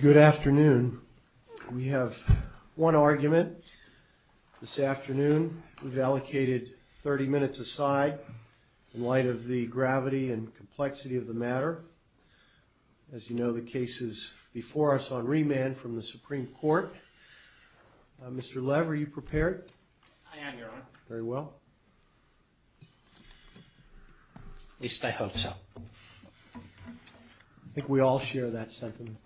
Good afternoon. We have one argument this afternoon. We've allocated 30 minutes aside in light of the gravity and complexity of the matter. As you know, the case is before us on remand from the Supreme Court. Mr. Lev, are you prepared? I am, Your Honor. Very well. At least I hope so. I think we all share that sentiment.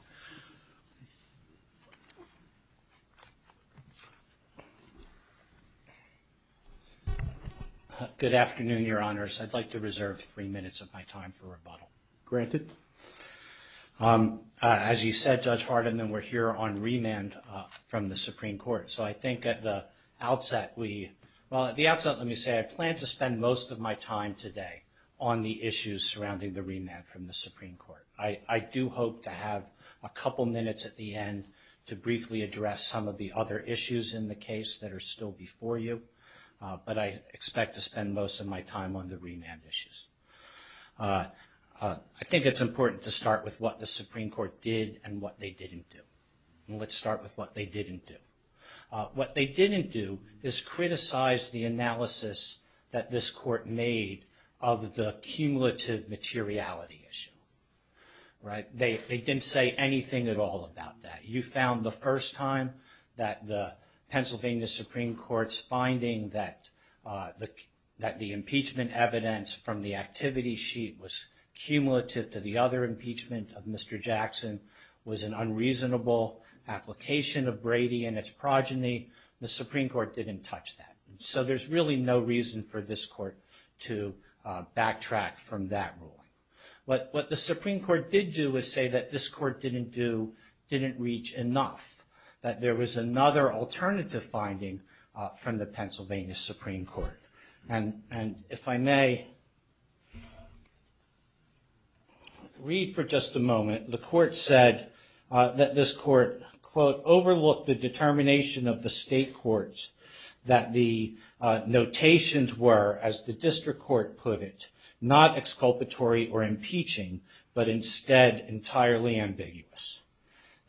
Good afternoon, Your Honors. I'd like to reserve three minutes of my time for rebuttal. Granted. As you said, Judge Hardiman, we're here on remand from the outset. Well, at the outset, let me say I plan to spend most of my time today on the issues surrounding the remand from the Supreme Court. I do hope to have a couple minutes at the end to briefly address some of the other issues in the case that are still before you, but I expect to spend most of my time on the remand issues. I think it's important to start with what the Supreme Court did and what they didn't do. Let's start with what they didn't do. What they didn't do is criticize the analysis that this court made of the cumulative materiality issue. Right? They didn't say anything at all about that. You found the first time that the Pennsylvania Supreme Court's finding that the impeachment evidence from the activity sheet was cumulative to the other impeachment of Mr. Jackson was an unreasonable application of Brady and its progeny. The Supreme Court didn't touch that. So there's really no reason for this court to backtrack from that rule. But what the Supreme Court did do is say that this court didn't do, didn't reach enough, that there was another alternative finding from the Pennsylvania Supreme Court. And if I may read for just a moment, the court said that this court, quote, overlooked the determination of the state courts that the notations were, as the district court put it, not exculpatory or impeaching, but instead entirely ambiguous.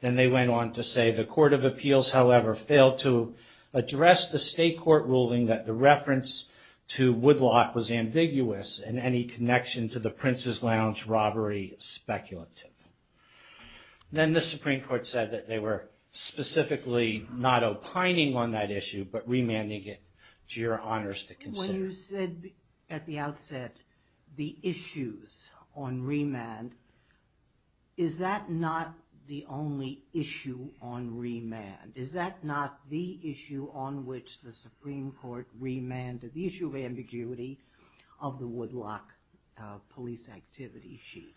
Then they went on to say the Court of Appeals, however, failed to address the state court ruling that the reference to Woodlock was ambiguous and any connection to the Prince's Lounge robbery speculative. Then the Supreme Court said that they were specifically not opining on that issue, but remanding it to your honors to consider. When you said at the outset the issues on remand, is that not the only issue on remand? Is that not the issue on which the Supreme Court remanded, the issue of ambiguity of the Woodlock police activity sheet?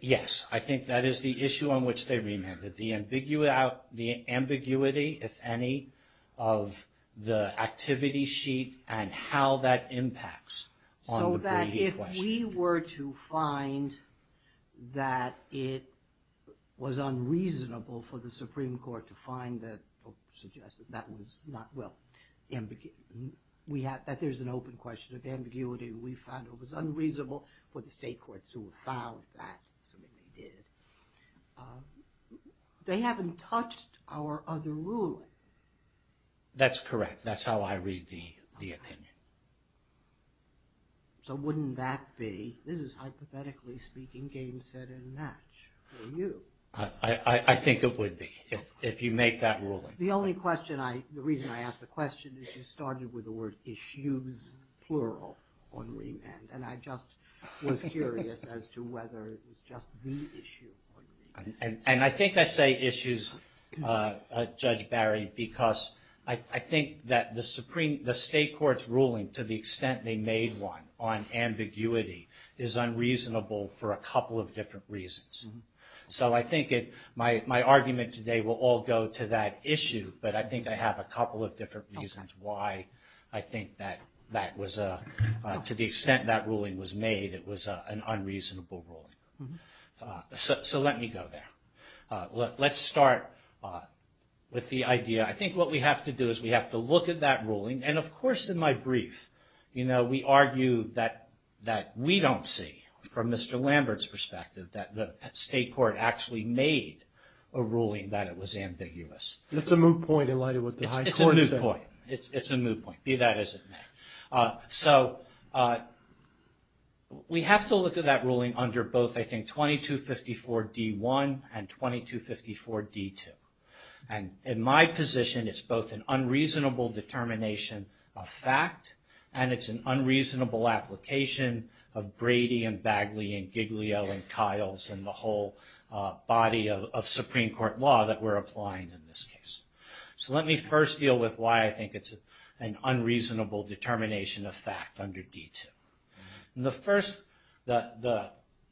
Yes, I think that is the issue on which they remanded. The ambiguity, if any, of the activity sheet and how that impacts on the gradient question. So that if we were to find that it was unreasonable for the Supreme Court to find that, that was not, well, we have that there's an open question of ambiguity. We found it was unreasonable for the state courts to have found that. They haven't touched our other ruling. That's correct. That's how I read the opinion. So wouldn't that be, this is hypothetically speaking, game, set, and match for you? I think it would be if you make that ruling. The only question I, the reason I ask the question is you started with the word issues, plural, on remand. And I just was curious as to whether it was just the issue on remand. And I think I say issues, Judge Barry, because I think that the Supreme, the state court's ruling to the extent they made one on ambiguity is unreasonable for a couple of different reasons. So I think my argument today will all go to that issue. But I think I have a couple of different reasons why I think that was, to the extent that ruling was made, it was an unreasonable ruling. So let me go there. Let's start with the idea. I think what we have to do is we have to look at that ruling. And of course in my brief, you know, we argue that we don't see, from Mr. Lambert's perspective, that the state court actually made a ruling that it was ambiguous. It's a moot point in light of what the high court said. It's a moot point. It's a moot point, be that as it may. So we have to look at that ruling under both, I think, 2254 D1 and 2254 D2. And in my position, it's both an unreasonable determination of fact, and it's an unreasonable application of Brady and Bagley and Giglio and Kiles and the whole body of Supreme Court law that we're applying in this case. So let me first deal with why I think it's an unreasonable determination of fact under D2. The first, the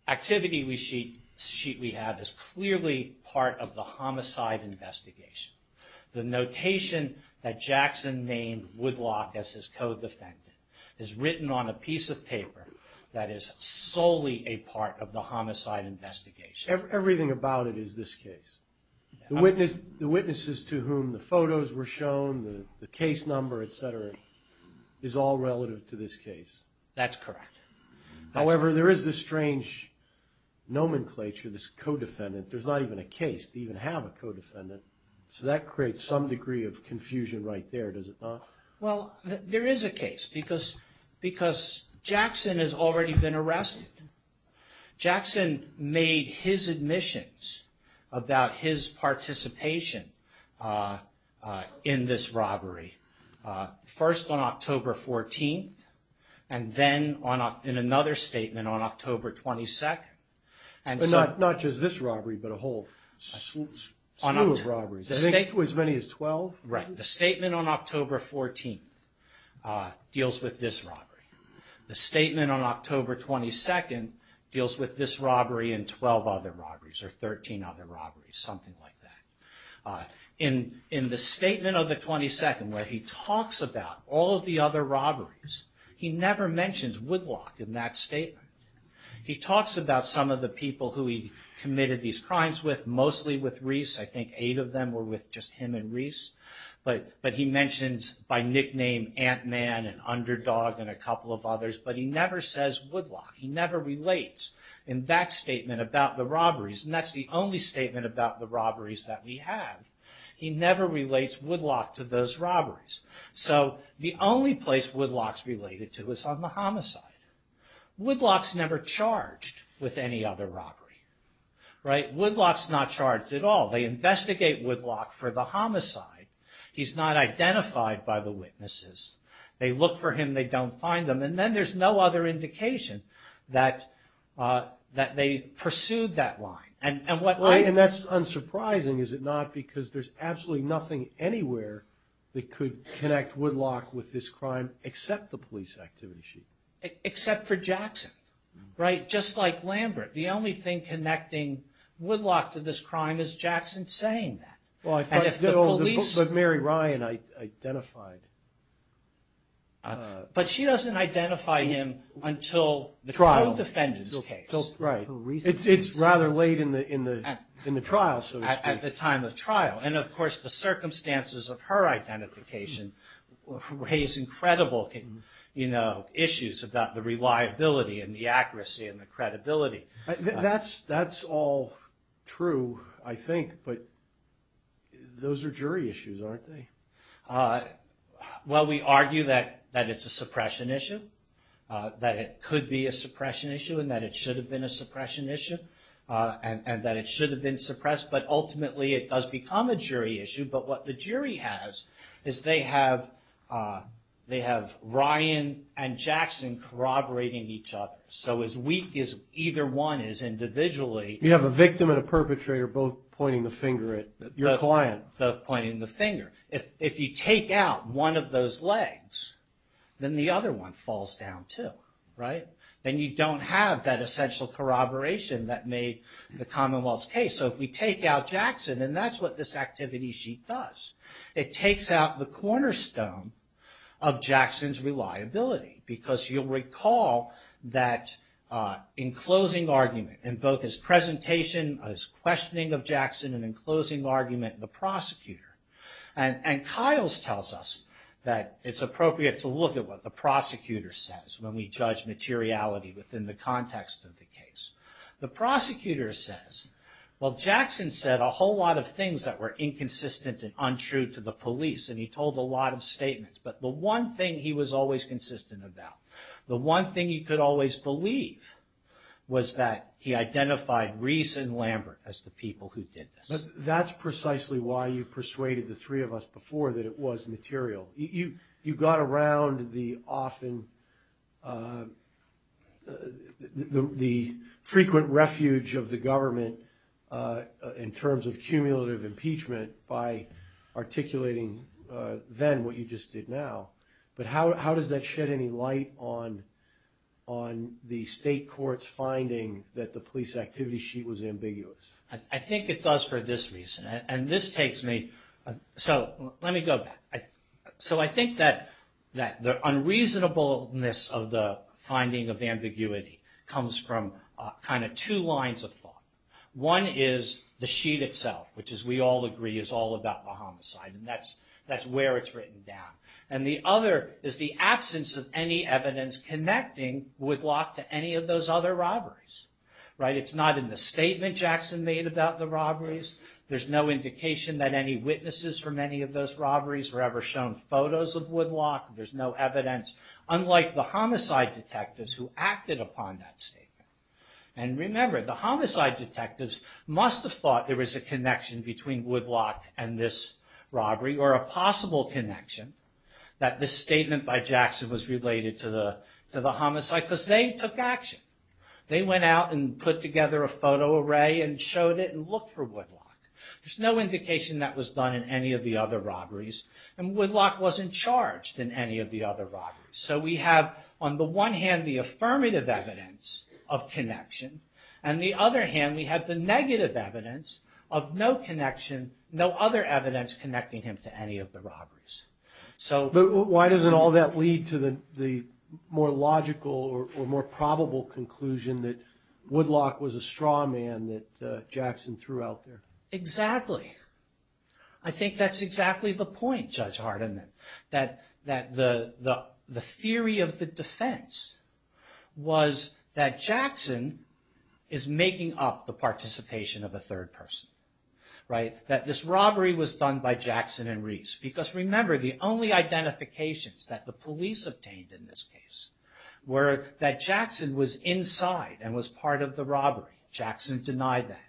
activity we have is clearly part of the homicide investigation. The notation that Jackson named Woodlock as his co-defendant is written on a piece of paper that is solely a part of the homicide investigation. Everything about it is this case. The witnesses to whom the photos were shown, the case number, et cetera, is all relative to this case. That's correct. However, there is this strange nomenclature, this co-defendant. There's not even a case to even have a co-defendant. So that creates some degree of confusion right there, does it not? Well, there is a case because Jackson has already been arrested. Jackson made his admissions about his participation in this robbery first on October 14th and then in another statement on October 22nd. Not just this robbery, but a whole slew of robberies, as many as 12? Right. The statement on October 14th deals with this robbery. The statement on October 22nd deals with this robbery and 12 other robberies, or 13 other robberies, something like that. In the statement of the 22nd, where he talks about all of the other robberies, he never mentions Woodlock in that statement. He talks about some of the people who he committed these crimes with, mostly with Reese. I think eight of them were with just him and Reese. But he mentions, by nickname, Ant-Man and Underdog and a couple of others. But he never says Woodlock. He never relates in that statement about the robberies. And that's the only statement about the robberies that he had. He never relates Woodlock to those robberies. So the only place Woodlock's related to is on the homicide. Woodlock's never charged with any other robbery. Right? Woodlock's not charged at all. They investigate Woodlock for the homicide. He's not identified by the witnesses. They look for him. They don't find him. And then there's no other indication that they pursued that line. And that's unsurprising, is it not? Because there's absolutely nothing anywhere that could connect Woodlock with this crime except the police activity. Except for Jackson. Right? Just like Lambert. The only thing connecting Woodlock to this crime is Jackson saying that. But Mary Ryan identified. But she doesn't identify him until the trial defendant's case. Right. It's rather late in the trial. At the time of trial. And of course the circumstances of her identification raise incredible issues about the reliability and the accuracy and the credibility. That's all true, I think. But those are jury issues, aren't they? Well, we argue that it's a suppression issue. That it could be a suppression issue and that it should have been a suppression issue. And that it should have been suppressed. But ultimately it does become a jury issue. But what the jury has is they have Ryan and Jackson corroborating each other. So as weak as either one is individually... You have a victim and a perpetrator both pointing the finger at your client. If you take out one of those legs, then the other one falls down too. Right? And you don't have that essential corroboration that made the Commonwealth's case. So if we take out Jackson, and that's what this activity sheet does. It takes out the cornerstone of Jackson's reliability. Because you'll recall that in closing argument, in both his presentation, his questioning of Jackson, and in closing argument, the prosecutor. And Kyles tells us that it's appropriate to look at what the prosecutor says when we judge materiality within the context of the case. The prosecutor says, well, Jackson said a whole lot of things that were inconsistent and untrue to the police. And he told a lot of statements. But the one thing he was always consistent about, the one thing he could always believe, was that he identified Reese and Lambert as the people who did this. That's precisely why you persuaded the three of us before that it was material. You got around the often... the frequent refuge of the government in terms of cumulative impeachment by articulating then what you just did now. But how does that shed any light on the state court's finding that the police activity sheet was ambiguous? I think it does for this reason. And this takes me... So let me go back. So I think that the unreasonableness of the finding of ambiguity comes from kind of two lines of thought. One is the sheet itself, which as we all agree is all about the homicide. And that's where it's written down. And the other is the absence of any evidence connecting Woodblock to any of those other robberies. It's not in the statement Jackson made about the robberies. There's no indication that any witnesses from any of those robberies were ever shown photos of Woodblock. There's no evidence. Unlike the homicide detectives who acted upon that statement. And remember, the homicide detectives must have thought there was a connection between Woodblock and this robbery, or a possible connection, that this statement by Jackson was related to the homicide. Because they took action. They went out and put together a photo array and showed it and looked for Woodblock. There's no indication that was done in any of the other robberies. And Woodblock wasn't charged in any of the other robberies. So we have, on the one hand, the affirmative evidence of connection. And on the other hand, we have the negative evidence of no connection, no other evidence connecting him to any of the robberies. So... But why does all that lead to the more logical or more probable conclusion that Woodblock was a straw man that Jackson threw out there? Exactly. I think that's exactly the point, Judge Hardiman. That the theory of the defense was that Jackson is making up the participation of a third person. That this robbery was done by Jackson and Reese. Because remember, the only identifications that the police obtained in this case were that Jackson was inside and was part of the robbery. Jackson denied that.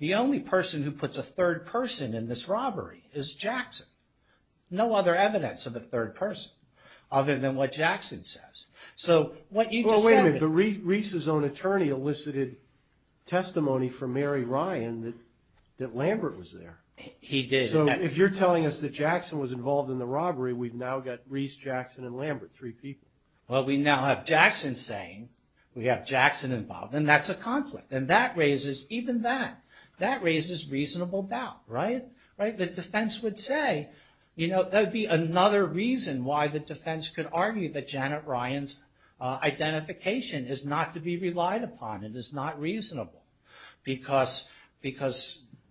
The only person who puts a third person in this robbery is Jackson. No other evidence of a third person, other than what Jackson says. Wait a minute. Reese's own attorney elicited testimony from Mary Ryan that Lambert was there. He did. So if you're telling us that Jackson was involved in the robbery, we've now got Reese, Jackson, and Lambert. Three people. Well, we now have Jackson saying, we have Jackson involved. And that's a conflict. And that raises, even then, that raises reasonable doubt. Right? The defense would say, you know, there'd be another reason why the defense could argue that Janet Ryan's identification is not to be relied upon. It is not reasonable. Because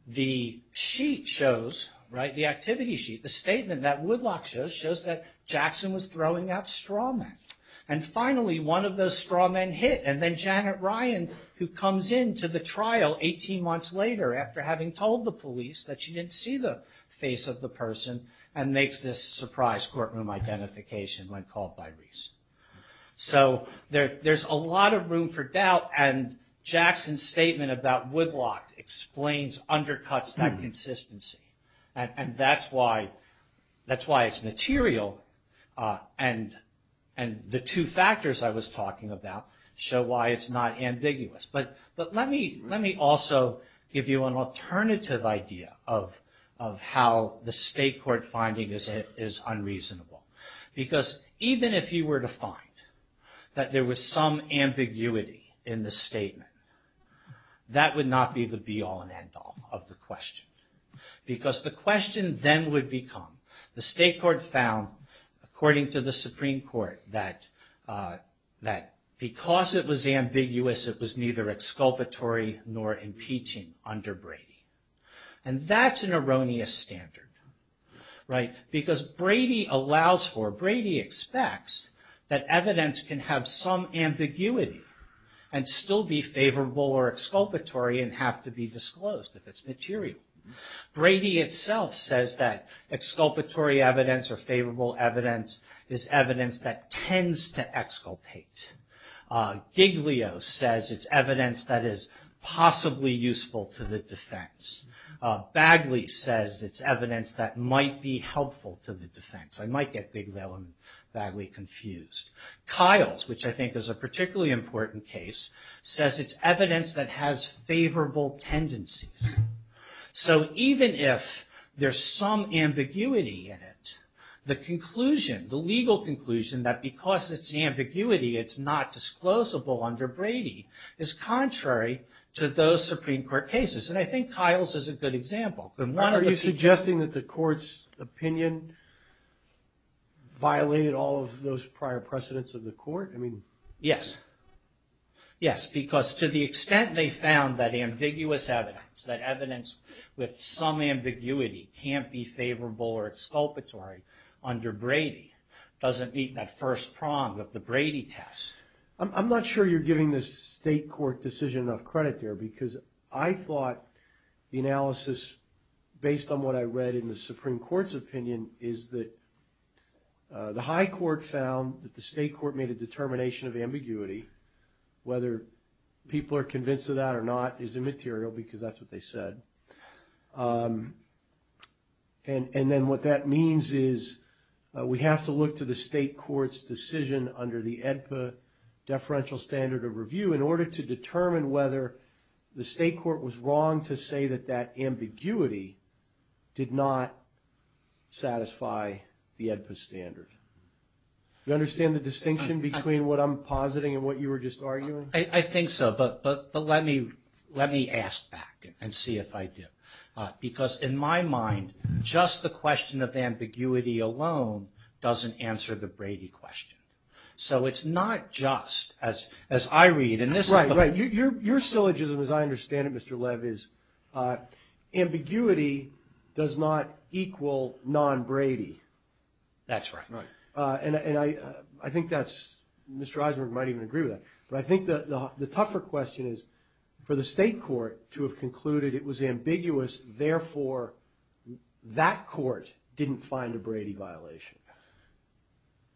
the sheet shows, right, the activity sheet, the statement that Woodlock shows, shows that Jackson was throwing out straw men. And finally, one of those straw men hit. And then Janet Ryan, who comes into the trial 18 months later, after having told the police that she didn't see the face of the person, and makes this surprise courtroom identification when called by Reese. So there's a lot of room for doubt. And Jackson's statement about Woodlock explains, undercuts that consistency. And that's why it's material. And the two factors I was talking about show why it's not ambiguous. But let me also give you an alternative idea of how the state court finding is unreasonable. Because even if you were to find that there was some ambiguity in the statement, that would not be the be all and end all of the question. Because the question then would become, the state court found, according to the Supreme Court, that because it was ambiguous, it was neither exculpatory nor impeaching under Brady. And that's an erroneous standard, right? Because Brady allows for, Brady expects that evidence can have some ambiguity and still be favorable or exculpatory and have to be disclosed if it's material. Brady itself says that exculpatory evidence or favorable evidence is evidence that tends to exculpate. Giglio says it's evidence that is possibly useful to the defense. Bagley says it's evidence that might be helpful to the defense. I might get Giglio and Bagley confused. Kiles, which I think is a particularly important case, says it's evidence that has favorable tendencies. So even if there's some ambiguity in it, the conclusion, the legal conclusion that because it's ambiguity, it's not disclosable under Brady, is contrary to those Supreme Court cases. And I think Kiles is a good example. Are you suggesting that the court's opinion violated all of those prior precedents of the court? Yes. Yes. Because to the extent they found that ambiguous evidence, that evidence with some ambiguity can't be favorable or exculpatory under Brady, doesn't beat that first prong of the Brady test. I'm not sure you're giving the state court decision enough credit there because I thought the analysis, based on what I read in the Supreme Court's opinion, is that the high court found that the state court made a determination of ambiguity, whether people are convinced of that or not, is immaterial because that's what they said. And then what that means is we have to look to the state court's decision under the AEDPA deferential standard of review in order to determine whether the state court was wrong to say that that ambiguity did not satisfy the AEDPA standard. Do you understand the distinction between what I'm positing and what you were just arguing? I think so, but let me ask back and see if I do. Because in my mind, just the question of ambiguity alone doesn't answer the Brady question. So it's not just, as I read, and this is... Right, right. Your syllogism, as I understand it, Mr. Lev, is ambiguity does not equal non-Brady. That's right. And I think that's, Mr. Eisenberg might even agree with that, but I think the tougher question is, for the state court to have concluded it was ambiguous, therefore that court didn't find a Brady violation.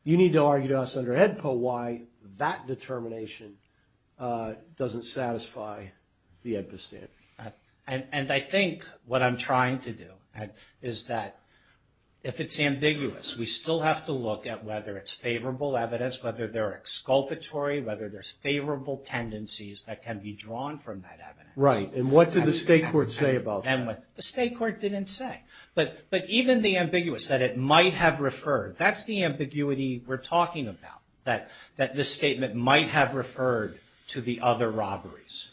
You need to argue to us under AEDPA why that determination doesn't satisfy the AEDPA standard. And I think what I'm trying to do is that if it's ambiguous, we still have to look at whether it's favorable evidence, whether they're exculpatory, whether there's favorable tendencies that can be drawn from that evidence. Right, and what did the state court say about that? The state court didn't say. But even the ambiguous, that it might have referred, that's the ambiguity we're talking about, that this statement might have referred to the other robberies.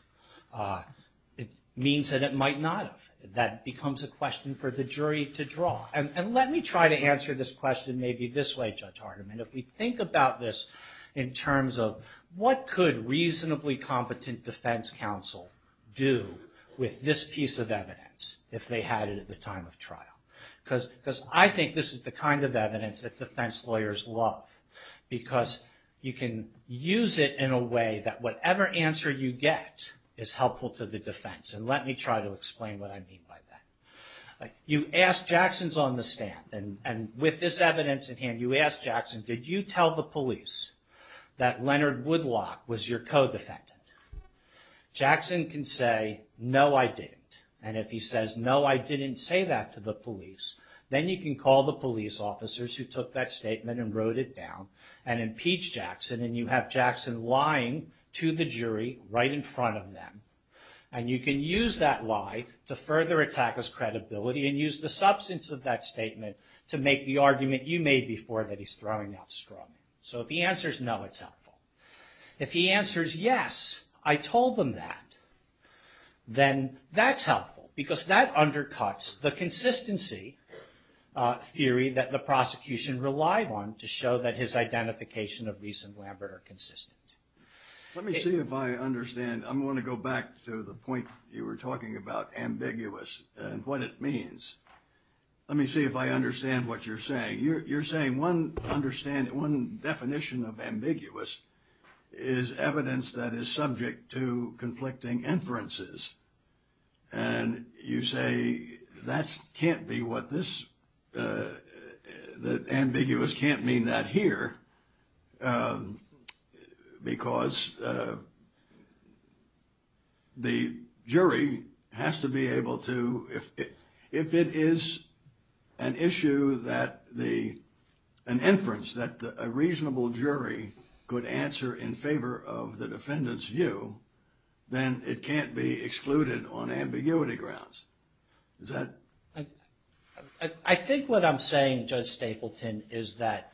It means that it might not have. That becomes a question for the jury to draw. And let me try to answer this question maybe this way, Judge Hardiman. If we think about this in terms of, what could reasonably competent defense counsel do with this piece of evidence, if they had it at the time of trial? Because I think this is the kind of evidence that defense lawyers love, because you can use it in a way that whatever answer you get is helpful to the defense. And let me try to explain what I mean by that. You ask Jackson's on the stand, and with this evidence at hand, you ask Jackson, did you tell the police that Leonard Woodlock was your co-defendant? Jackson can say, no, I didn't. And if he says, no, I didn't say that to the police, then you can call the police officers who took that statement and wrote it down, and impeach Jackson, and you have Jackson lying to the jury right in front of them. And you can use that lie to further attack his credibility, and use the substance of that statement to make the argument you made before that he's throwing out straws. So if he answers, no, it's helpful. If he answers, yes, I told them that, then that's helpful, because that undercuts the consistency theory that the prosecution relied on to show that his identification of Reese and Lambert are consistent. Let me see if I understand. I'm going to go back to the point you were talking about, ambiguous, and what it means. Let me see if I understand what you're saying. You're saying one definition of ambiguous is evidence that is subject to conflicting inferences. And you say that can't be what this – that ambiguous can't mean that here, because the jury has to be able to – if it is an issue that the – an inference that a reasonable jury could answer in favor of the defendant's view, then it can't be excluded on ambiguity grounds. Is that – I think what I'm saying, Judge Stapleton, is that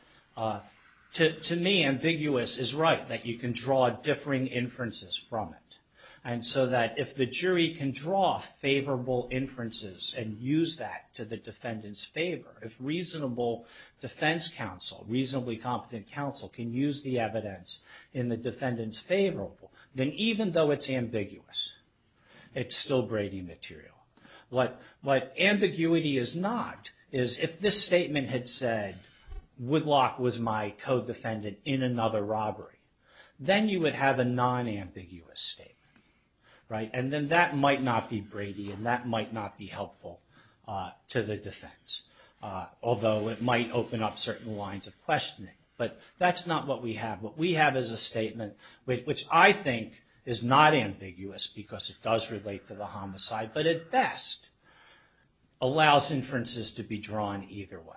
to me, ambiguous is right, that you can draw differing inferences from it. And so that if the jury can draw favorable inferences and use that to the defendant's favor, if reasonable defense counsel, reasonably competent counsel, can use the evidence in the defendant's favor, then even though it's ambiguous, it's still Brady material. What ambiguity is not is if this statement had said, Woodlock was my co-defendant in another robbery, then you would have a non-ambiguous statement, right? And then that might not be Brady, and that might not be helpful to the defense, although it might open up certain lines of questioning. But that's not what we have. What we have is a statement, which I think is not ambiguous, because it does relate to the homicide, but at best allows inferences to be drawn either way.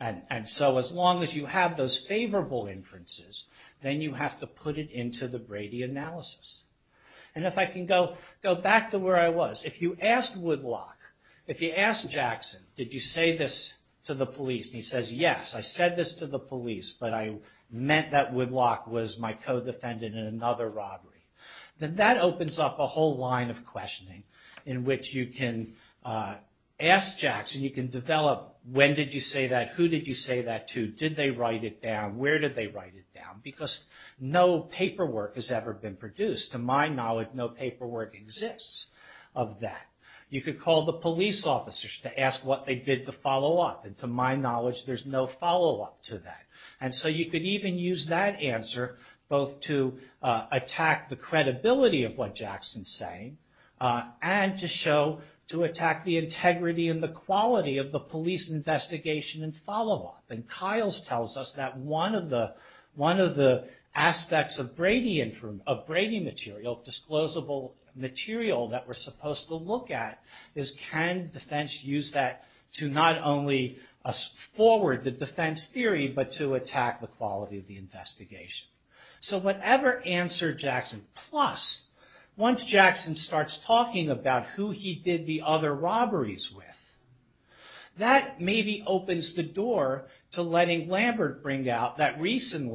And so as long as you have those favorable inferences, then you have to put it into the Brady analysis. And if I can go back to where I was. If you ask Woodlock, if you ask Jackson, did you say this to the police? And he says, yes, I said this to the police, but I meant that Woodlock was my co-defendant in another robbery. Then that opens up a whole line of questioning in which you can ask Jackson, you can develop, when did you say that? Who did you say that to? Did they write it down? Where did they write it down? Because no paperwork has ever been produced. To my knowledge, no paperwork exists of that. You could call the police officers to ask what they did to follow up, and to my knowledge, there's no follow-up to that. And so you could even use that answer, both to attack the credibility of what Jackson's saying, and to show, to attack the integrity and the quality of the police investigation and follow-up. And Kyles tells us that one of the aspects of Brady material, disclosable material that we're supposed to look at, is can defense use that to not only forward the defense theory, but to attack the quality of the investigation? So whatever answer Jackson, plus once Jackson starts talking about who he did the other robberies with, that maybe opens the door to letting Lambert bring out that reason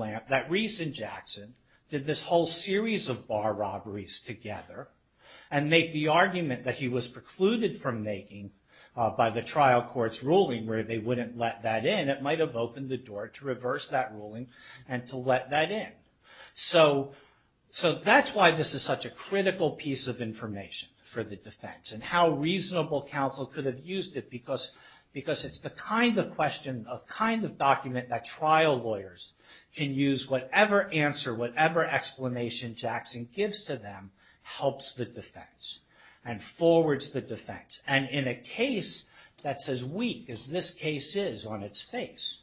Jackson did this whole series of bar robberies together, and make the argument that he was precluded from making by the trial court's ruling where they wouldn't let that in, that might have opened the door to reverse that ruling and to let that in. So that's why this is such a critical piece of information for the defense, and how reasonable counsel could have used it, because it's the kind of question, a kind of document that trial lawyers can use whatever answer, whatever explanation Jackson gives to them, helps the defense, and forwards the defense. And in a case that's as weak as this case is on its face,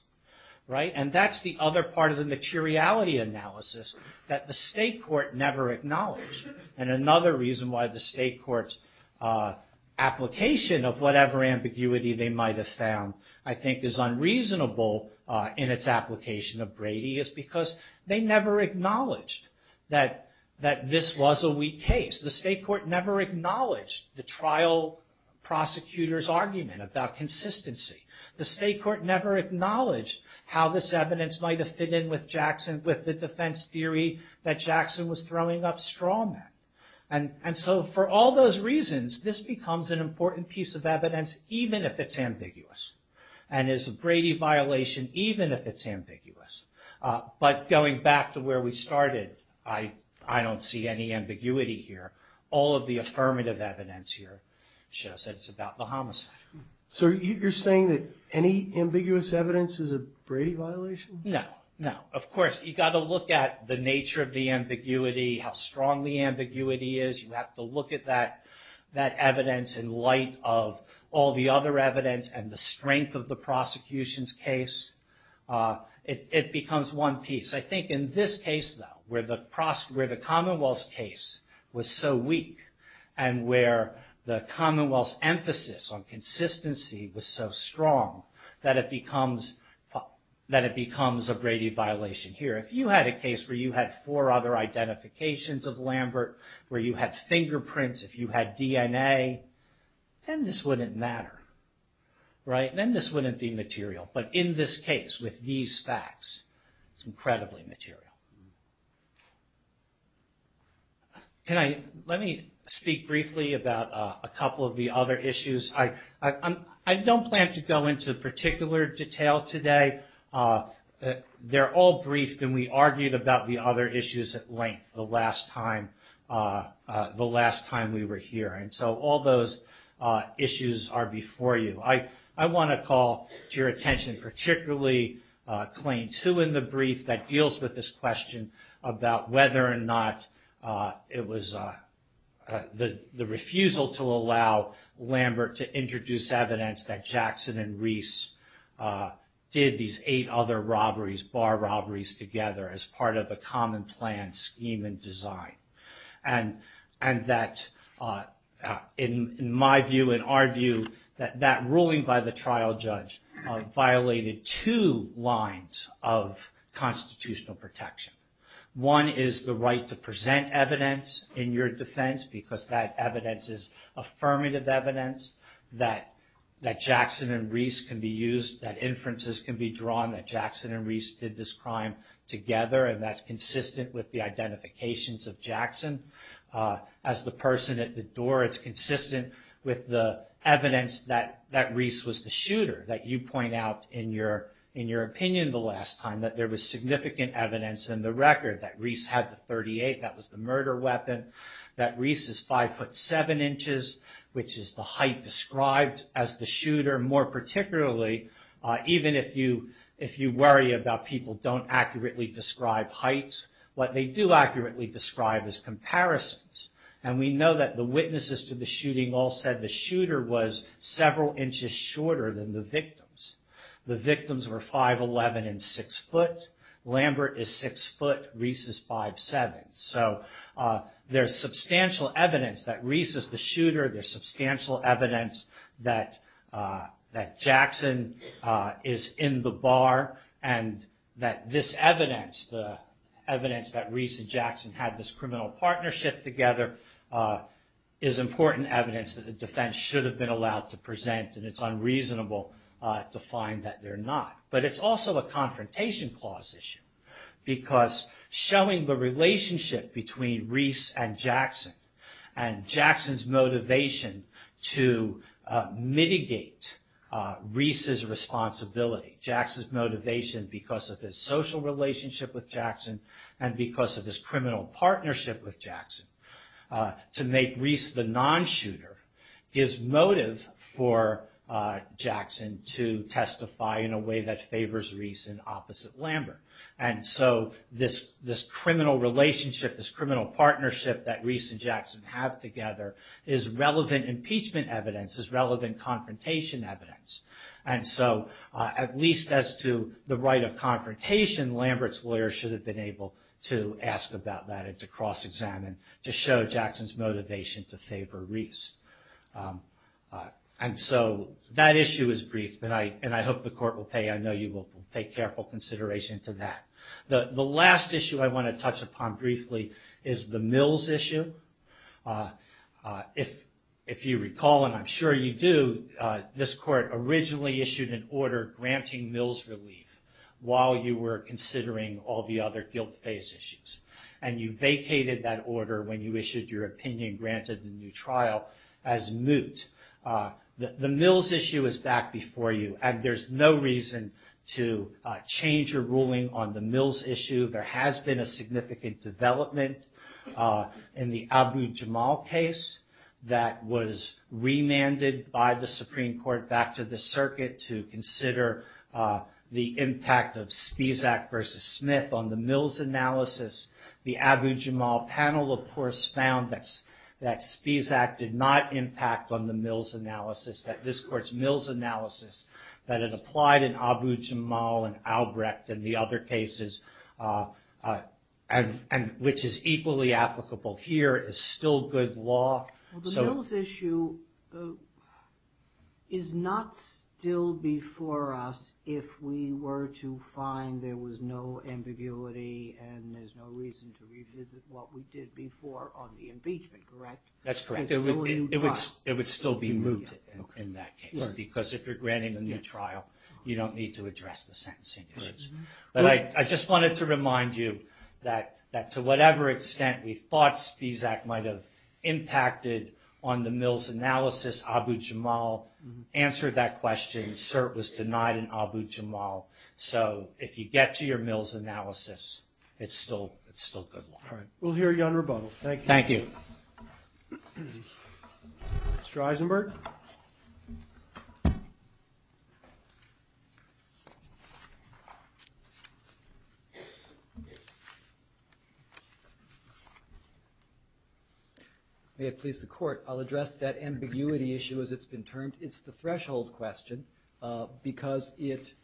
and that's the other part of the materiality analysis, that the state court never acknowledged. And another reason why the state court's application of whatever ambiguity they might have found, I think is unreasonable in its application of Brady, is because they never acknowledged that this was a weak case. The state court never acknowledged the trial prosecutor's argument about consistency. The state court never acknowledged how this evidence might have fit in with the defense theory that Jackson was throwing up straw men. And so for all those reasons, this becomes an important piece of evidence, even if it's ambiguous. And it's a Brady violation even if it's ambiguous. But going back to where we started, I don't see any ambiguity here. All of the affirmative evidence here shows that it's about the homicide. So you're saying that any ambiguous evidence is a Brady violation? No, no. Of course, you've got to look at the nature of the ambiguity, how strong the ambiguity is. You have to look at that evidence in light of all the other evidence and the strength of the prosecution's case. It becomes one piece. I think in this case, though, where the commonwealth's case was so weak and where the commonwealth's emphasis on consistency was so strong, that it becomes a Brady violation here. If you had a case where you had four other identifications of Lambert, where you had fingerprints, if you had DNA, then this wouldn't matter. Then this wouldn't be material. But in this case, with these facts, it's incredibly material. Let me speak briefly about a couple of the other issues. I don't plan to go into particular detail today. They're all briefed and we argued about the other issues at length the last time we were here. And so all those issues are before you. I want to call to your attention particularly Claim 2 in the brief that deals with this question about whether or not it was the refusal to allow Lambert to introduce evidence that Jackson and Reese did these eight other bar robberies together as part of a common plan scheme and design. And that in my view, in our view, that ruling by the trial judge violated two lines of constitutional protection. One is the right to present evidence in your defense because that evidence is affirmative evidence that Jackson and Reese can be used, that inferences can be drawn that Jackson and Reese did this crime together and that's consistent with the identifications of Jackson. As the person at the door, it's consistent with the evidence that Reese was the shooter that you point out in your opinion the last time that there was significant evidence in the record that Reese had the .38, that was the murder weapon, that Reese's 5'7", which is the height described as the shooter. More particularly, even if you worry about people who don't accurately describe heights, what they do accurately describe is comparisons. And we know that the witnesses to the shooting all said the shooter was several inches shorter than the victims. The victims were 5'11 and 6', Lambert is 6', Reese is 5'7". So there's substantial evidence that Reese is the shooter, there's substantial evidence that Jackson is in the bar and that this evidence, the evidence that Reese and Jackson had this criminal partnership together is important evidence that the defense should have been allowed to present and it's unreasonable to find that they're not. But it's also a confrontation clause issue because showing the relationship between Reese and Jackson and Jackson's motivation to mitigate Reese's responsibility, Jackson's motivation because of his social relationship with Jackson and because of his criminal partnership with Jackson to make Reese the non-shooter is motive for Jackson to testify in a way that favors Reese and opposite Lambert. And so this criminal relationship, this criminal partnership that Reese and Jackson have together is relevant impeachment evidence, is relevant confrontation evidence. And so at least as to the right of confrontation, Lambert's lawyers should have been able to ask about that and to cross-examine to show Jackson's motivation to favor Reese. And so that issue is brief and I hope the court will pay, I know you will take careful consideration to that. The last issue I want to touch upon briefly is the Mills issue. If you recall and I'm sure you do, this court originally issued an order granting Mills relief while you were considering all the other guilt-based issues. And you vacated that order when you issued your opinion granted in the trial as moot. The Mills issue is back before you and there's no reason to change your ruling on the Mills issue. There has been a significant development in the Abu Jamal case that was remanded by the Supreme Court back to the circuit to consider the impact of Stesak vs. Smith on the Mills analysis. The Abu Jamal panel of course found that Stesak did not impact on the Mills analysis, that this court's Mills analysis that it applied in Abu Jamal and Albrecht and the other cases, which is equally applicable here is still good law. The Mills issue is not still before us if we were to find there was no ambiguity and there's no reason to revisit what we did before on the impeachment, correct? It would still be moot in that case because if you're granting a new trial, you don't need to address the sentencing issues. I just wanted to remind you that to whatever extent we thought Stesak might have impacted on the Mills analysis, Abu Jamal answered that question, cert was denied in Abu Jamal. If you get to your Mills analysis, it's still good law. We'll hear you on rebuttal. Thank you. May it please the court. I'll address that ambiguity issue as it's been termed. It's the threshold question because it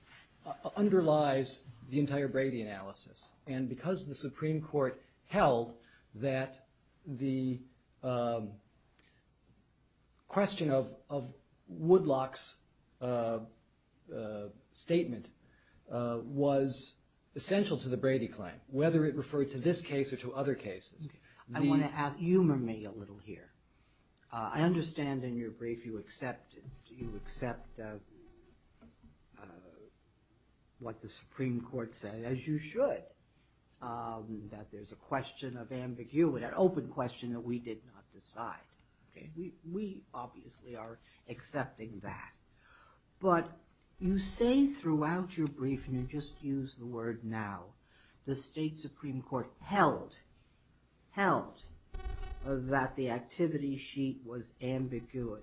underlies the entire Brady analysis and because the Supreme Court held that the question of Woodlock's statement was essential to the Brady claim, whether it referred to this case or to other cases. Humor me a little here. I understand in your brief you accept what the Supreme Court said, as you should, that there's a question of ambiguity, an open question that we did not decide. We obviously are accepting that. But you say throughout your brief and you just used the word now, the state Supreme Court held that the activity sheet was ambiguous,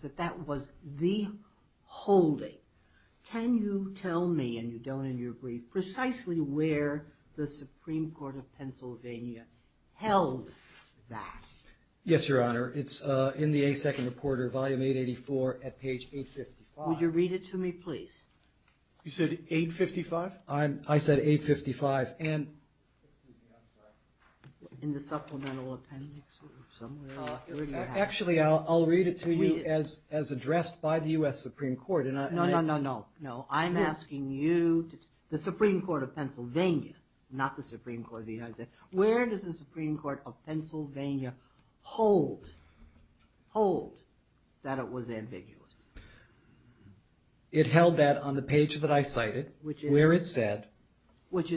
that that was the holding. Can you tell me, and you don't in your brief, precisely where the Supreme Court of Pennsylvania held that? Yes, Your Honor. It's in the A Second Reporter, Volume 884 at page 855. Would you read it to me, please? You said 855? I said 855. Actually, I'll read it to you as addressed by the U.S. Supreme Court. No, no, no. I'm asking you, the Supreme Court of Pennsylvania, not the Supreme Court of the United States, where does the Supreme Court of Pennsylvania hold that it was ambiguous? It held that on the page that I cited where it said that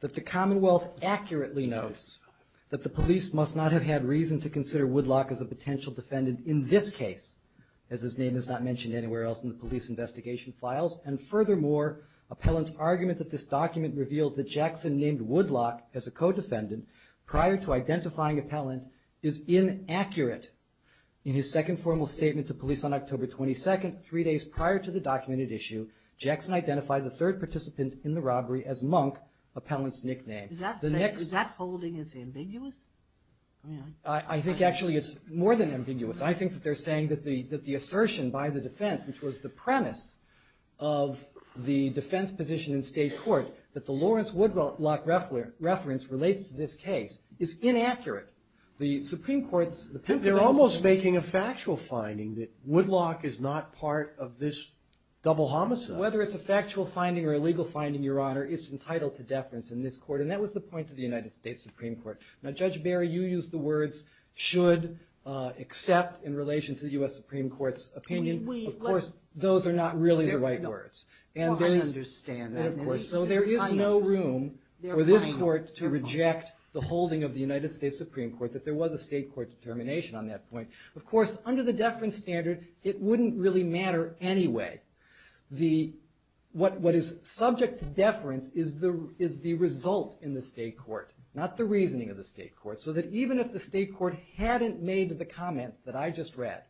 the Commonwealth accurately notes that the police must not have had reason to consider Woodlock as a potential defendant in this case, as his name is not mentioned anywhere else in the police investigation files. And furthermore, Appellant's argument that this document reveals that Jackson named Woodlock as a co-defendant prior to identifying Appellant is inaccurate. In his second formal statement to police on October 22nd, three days prior to the documented issue, Jackson identified the third participant in the robbery as Monk, Appellant's nickname. Is that holding as ambiguous? I think actually it's more than ambiguous. I think that they're saying that the assertion by the defense, which was the premise of the defense position in state court, that the Lawrence Woodlock reference relates to this case is inaccurate. They're almost making a factual finding that Woodlock is not part of this double homicide. Whether it's a factual finding or a legal finding, your Honor, it's entitled to deference in this court. And that was the point of the United States Supreme Court. Now, Judge Barry, you used the words should accept in relation to the U.S. Supreme Court's opinion. Of course, those are not really the right words. So there is no room for this court to reject the holding of the United States Supreme Court if there was a state court's determination on that point. Of course, under the deference standard, it wouldn't really matter anyway. What is subject to deference is the result in the state court, not the reasoning of the state court, so that even if the state court hadn't made the comment that I just read,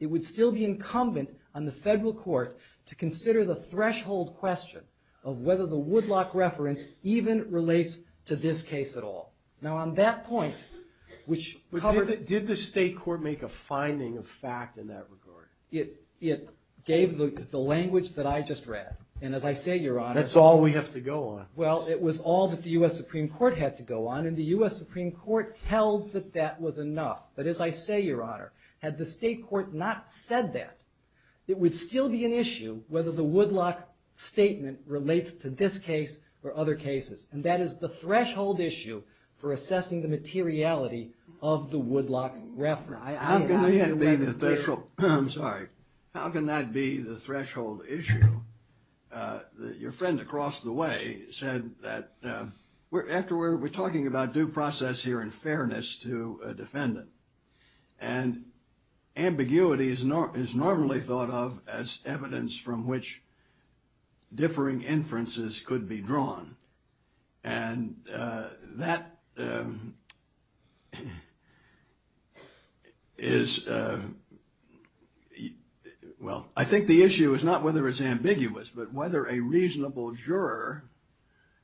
it would still be incumbent on the federal court to consider the threshold question of whether the Woodlock reference even relates to this case at all. Now, on that point... Did the state court make a finding of fact in that regard? It gave the language that I just read. And as I say, Your Honor... That's all we have to go on. Well, it was all that the U.S. Supreme Court had to go on, and the U.S. Supreme Court held that that was enough. But as I say, Your Honor, had the state court not said that, it would still be an issue whether the Woodlock statement relates to this case or other cases. And that is the threshold issue for assessing the materiality of the Woodlock reference. I'm sorry. How can that be the threshold issue? Your friend across the way said that... We're talking about due process here in fairness to a defendant, and ambiguity is normally thought of as evidence from which differing inferences could be drawn. And that... Well, I think the issue is not whether it's ambiguous, but whether a reasonable juror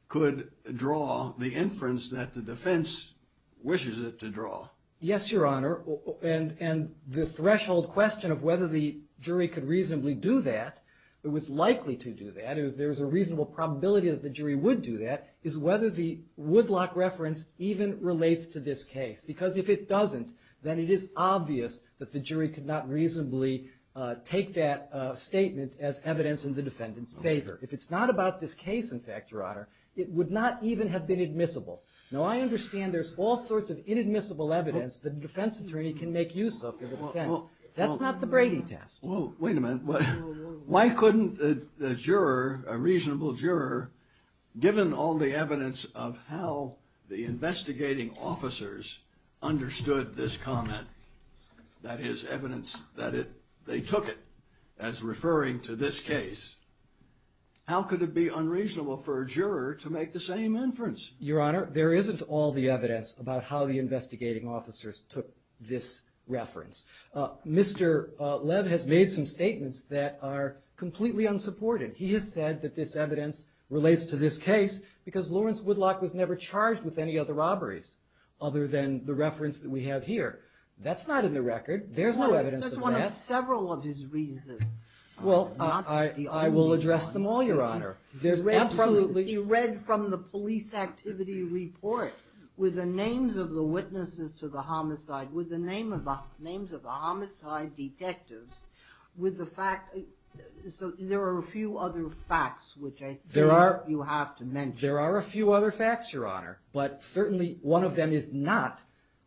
could draw the inference that the defense wishes it to draw. Yes, Your Honor, and the threshold question of whether the jury could reasonably do that, or was likely to do that, if there's a reasonable probability that the jury would do that, is whether the Woodlock reference even relates to this case. Because if it doesn't, then it is obvious that the jury could not reasonably take that statement as evidence in the defendant's favor. If it's not about this case, in fact, Your Honor, it would not even have been admissible. Now, I understand there's all sorts of inadmissible evidence that a defense attorney can make use of as a defense. That's not the grading test. Wait a minute. Why couldn't the juror, a reasonable juror, given all the evidence of how the investigating officers understood this comment, that is, evidence that they took it as referring to this case, how could it be unreasonable for a juror to make the same inference? Your Honor, there isn't all the evidence about how the investigating officers took this reference. Mr. Lev has made some statements that are completely unsupported. He has said that this evidence relates to this case because Lawrence Woodlock was never charged with any other robberies other than the reference that we have here. That's not in the record. There's no evidence of that. There's one of several of his reasons. Well, I will address them all, Your Honor. Absolutely. He read from the police activity report with the names of the witnesses to the homicide, with the names of the homicide detectives, so there are a few other facts which I think you have to mention. There are a few other facts, Your Honor, but certainly one of them is not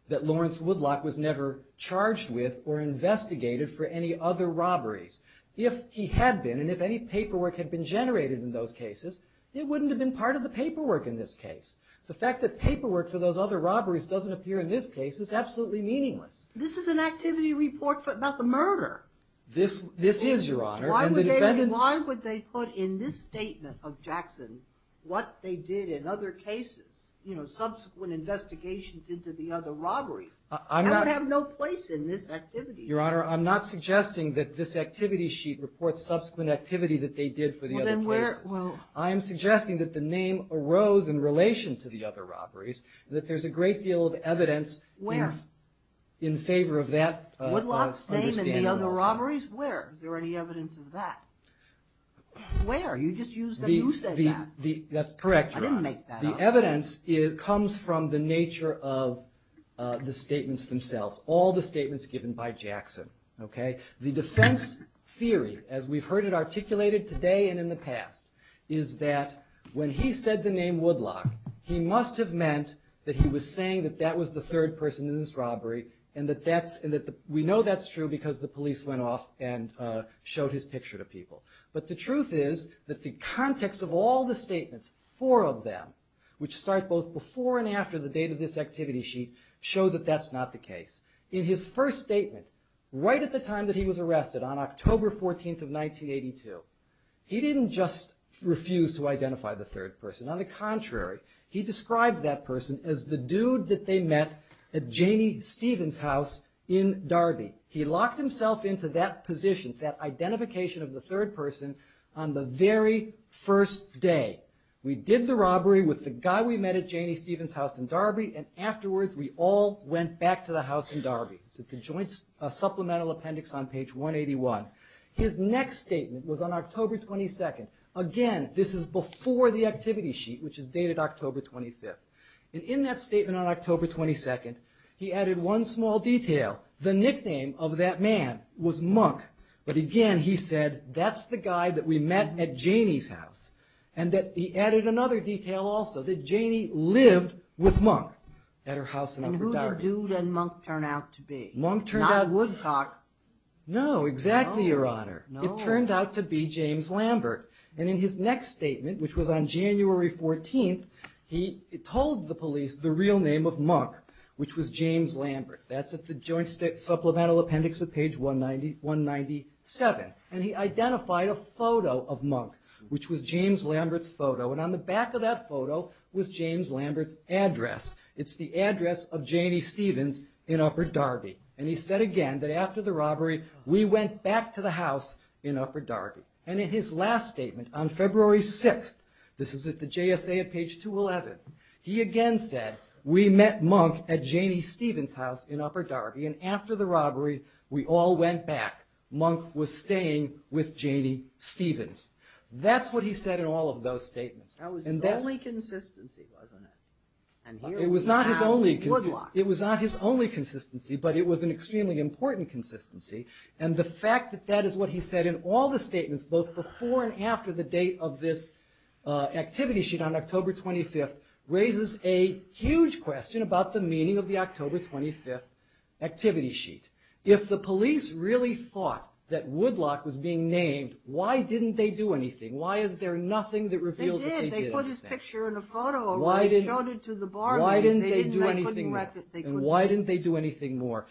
that Lawrence Woodlock was never charged with or investigated for any other robberies. If he had been, and if any paperwork had been generated in those cases, it wouldn't have been part of the paperwork in this case. The fact that paperwork for those other robberies doesn't appear in this case is absolutely meaningless. This is an activity report about the murder. This is, Your Honor. Why would they put in this statement of Jackson what they did in other cases, subsequent investigations into the other robberies? I have no place in this activity. Your Honor, I'm not suggesting that this activity sheet reports subsequent activities that they did for the other places. I'm suggesting that the name arose in relation to the other robberies, that there's a great deal of evidence in favor of that. Woodlock's name in the other robberies? Where? Is there any evidence of that? Where? You just used that you said that. I didn't make that up. The evidence comes from the nature of the statements themselves, all the statements given by Jackson. The defense theory, as we've heard it articulated today and in the past, is that when he said the name Woodlock, he must have meant that he was saying that that was the third person in this robbery, and we know that's true because the police went off and showed his picture to people. But the truth is that the context of all the statements, four of them, which start both before and after the date of this activity sheet, show that that's not the case. In his first statement, right at the time that he was arrested, on October 14th of 1982, he didn't just refuse to identify the third person. On the contrary, he described that person as the dude that they met at Janie Stevens' house in Darby. He locked himself into that position, that identification of the third person, on the very first day. We did the robbery with the guy we met at Janie Stevens' house in Darby, and afterwards we all went back to the house in Darby. It's a joint supplemental appendix on page 181. His next statement was on October 22nd. Again, this is before the activity sheet, which is dated October 25th. In that statement on October 22nd, he added one small detail. The nickname of that man was Monk. But again, he said, that's the guy that we met at Janie's house. He added another detail also, that Janie lived with Monk at her house in Darby. And who did Dude and Monk turn out to be? Not Woodcock. No, exactly, Your Honor. It turned out to be James Lambert. And in his next statement, which was on January 14th, he told the police the real name of Monk, which was James Lambert. That's at the joint supplemental appendix on page 197. And he identified a photo of Monk, which was James Lambert's photo, and on the back of that photo was James Lambert's address. It's the address of Janie Stevens in Upper Darby. And he said again, that after the robbery, we went back to the house in Upper Darby. And in his last statement, on February 6th, this is at the JSA at page 211, he again said, we met Monk at Janie Stevens' house in Upper Darby, and after the robbery, we all went back. Monk was staying with Janie Stevens. That's what he said in all of those statements. That was his only consistency, wasn't it? It was not his only consistency, but it was an extremely important consistency. And the fact that that is what he said in all the statements, both before and after the date of this activity sheet on October 25th, raises a huge question about the meaning of the October 25th activity sheet. If the police really thought that Woodlock was being named, why didn't they do anything? Why is there nothing that reveals what they did? Why didn't they do anything more? And why didn't they do anything more?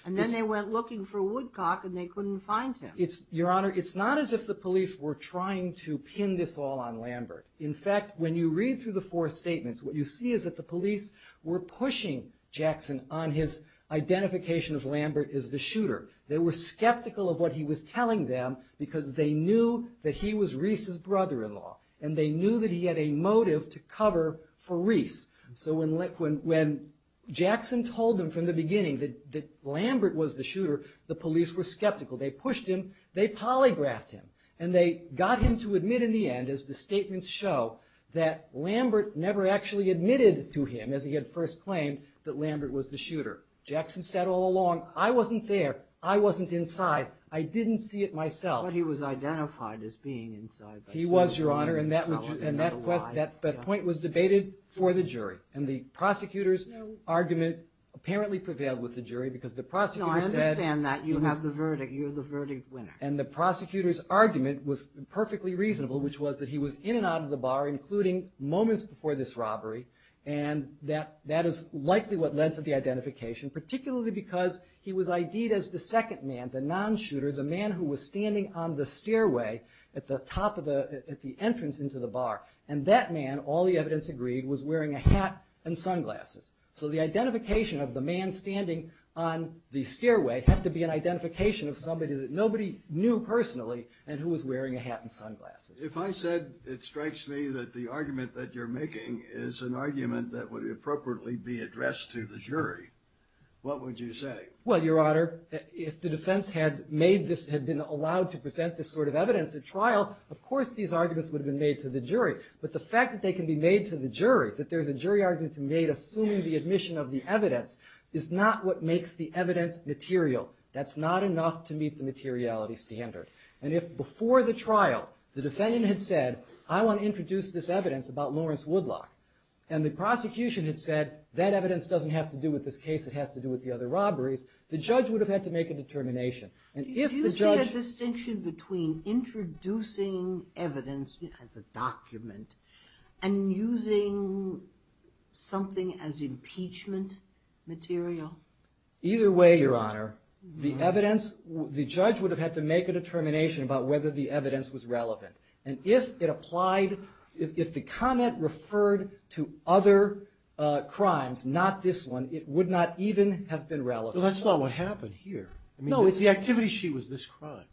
Your Honor, it's not as if the police were trying to pin this all on Lambert. In fact, when you read through the four statements, what you see is that the police were pushing Jackson on his identification of Lambert as the shooter. They were skeptical of what he was telling them, because they knew that he was Reese's brother-in-law, and they knew that he had a motive to cover for Reese. So when Jackson told them from the beginning that Lambert was the shooter, the police were skeptical. They pushed him, they polygraphed him, and they got him to admit in the end, as the statements show, that Lambert never actually admitted to him, as he had first claimed, that Lambert was the shooter. Jackson said all along, I wasn't there, I wasn't inside, I didn't see it myself. But he was identified as being inside. He was, Your Honor, and that point was debated for the jury. And the prosecutor's argument apparently prevailed with the jury, because the prosecutor said, and the prosecutor's argument was perfectly reasonable, which was that he was in and out of the bar, including moments before this robbery, and that is likely what led to the identification, particularly because he was ID'd as the second man, the non-shooter, the man who was standing on the stairway at the entrance into the bar. And that man, all the evidence agreed, was wearing a hat and sunglasses. So the identification of the man standing on the stairway had to be an identification of somebody that nobody knew personally, and who was wearing a hat and sunglasses. If I said it strikes me that the argument that you're making is an argument that would appropriately be addressed to the jury, what would you say? Well, Your Honor, if the defense had made this, had been allowed to present this sort of evidence at trial, of course these arguments would have been made to the jury. But the fact that they can be made to the jury, that there's a jury argument made assuming the admission of the evidence, is not what makes the evidence material. That's not enough to meet the materiality standard. And if before the trial, the defendant had said, I want to introduce this evidence about Lawrence Woodlock, and the prosecution had said, that evidence doesn't have to do with this case, it has to do with the other robberies, the judge would have had to make a determination. Do you see a distinction between introducing evidence as a document, and using something as impeachment material? Either way, Your Honor. The evidence, the judge would have had to make a determination about whether the evidence was relevant. And if it applied, if the comment referred to other crimes, not this one, it would not even have been relevant. That's not what happened here. No, the activity sheet was this crime.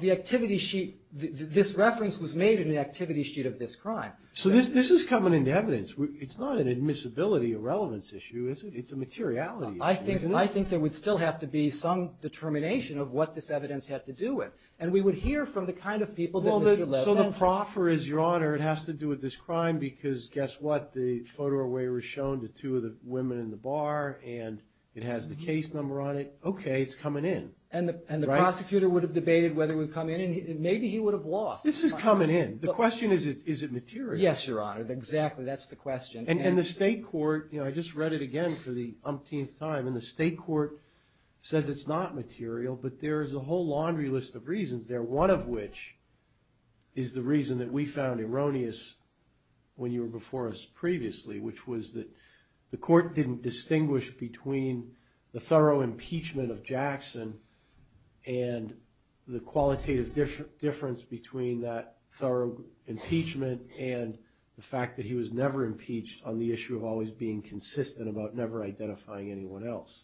This reference was made in the activity sheet of this crime. So this is coming into evidence. It's not an admissibility or relevance issue, it's a materiality issue. I think there would still have to be some determination of what this evidence had to do with. And we would hear from the kind of people that would be relevant. So the proffer is, Your Honor, it has to do with this crime, because guess what, the photo where it was shown to two of the women in the bar, and it has the case number on it, okay, it's coming in. And the prosecutor would have debated whether it would come in, and maybe he would have lost. This is coming in. The question is, is it material? Yes, Your Honor, exactly, that's the question. And the state court, I just read it again for the umpteenth time, and the state court says it's not material, but there is a whole laundry list of reasons there, one of which is the reason that we found erroneous when you were before us previously, which was that the court didn't distinguish between the thorough impeachment of Jackson and the qualitative difference between that thorough impeachment and the fact that he was never impeached on the issue of always being consistent about never identifying anyone else.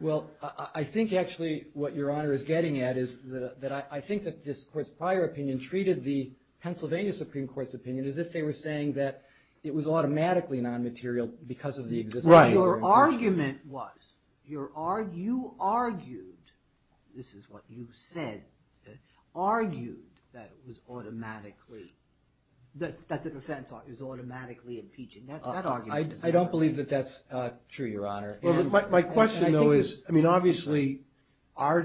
Well, I think actually what Your Honor is getting at is that I think that this prior opinion treated the Pennsylvania Supreme Court's opinion as if they were saying that it was automatically non-material because of the existence of the Supreme Court. Your argument was, you argued, this is what you said, argued that it was automatically, that the defense is automatically impeaching. I don't believe that that's true, Your Honor. My question, though, is, I mean, obviously, our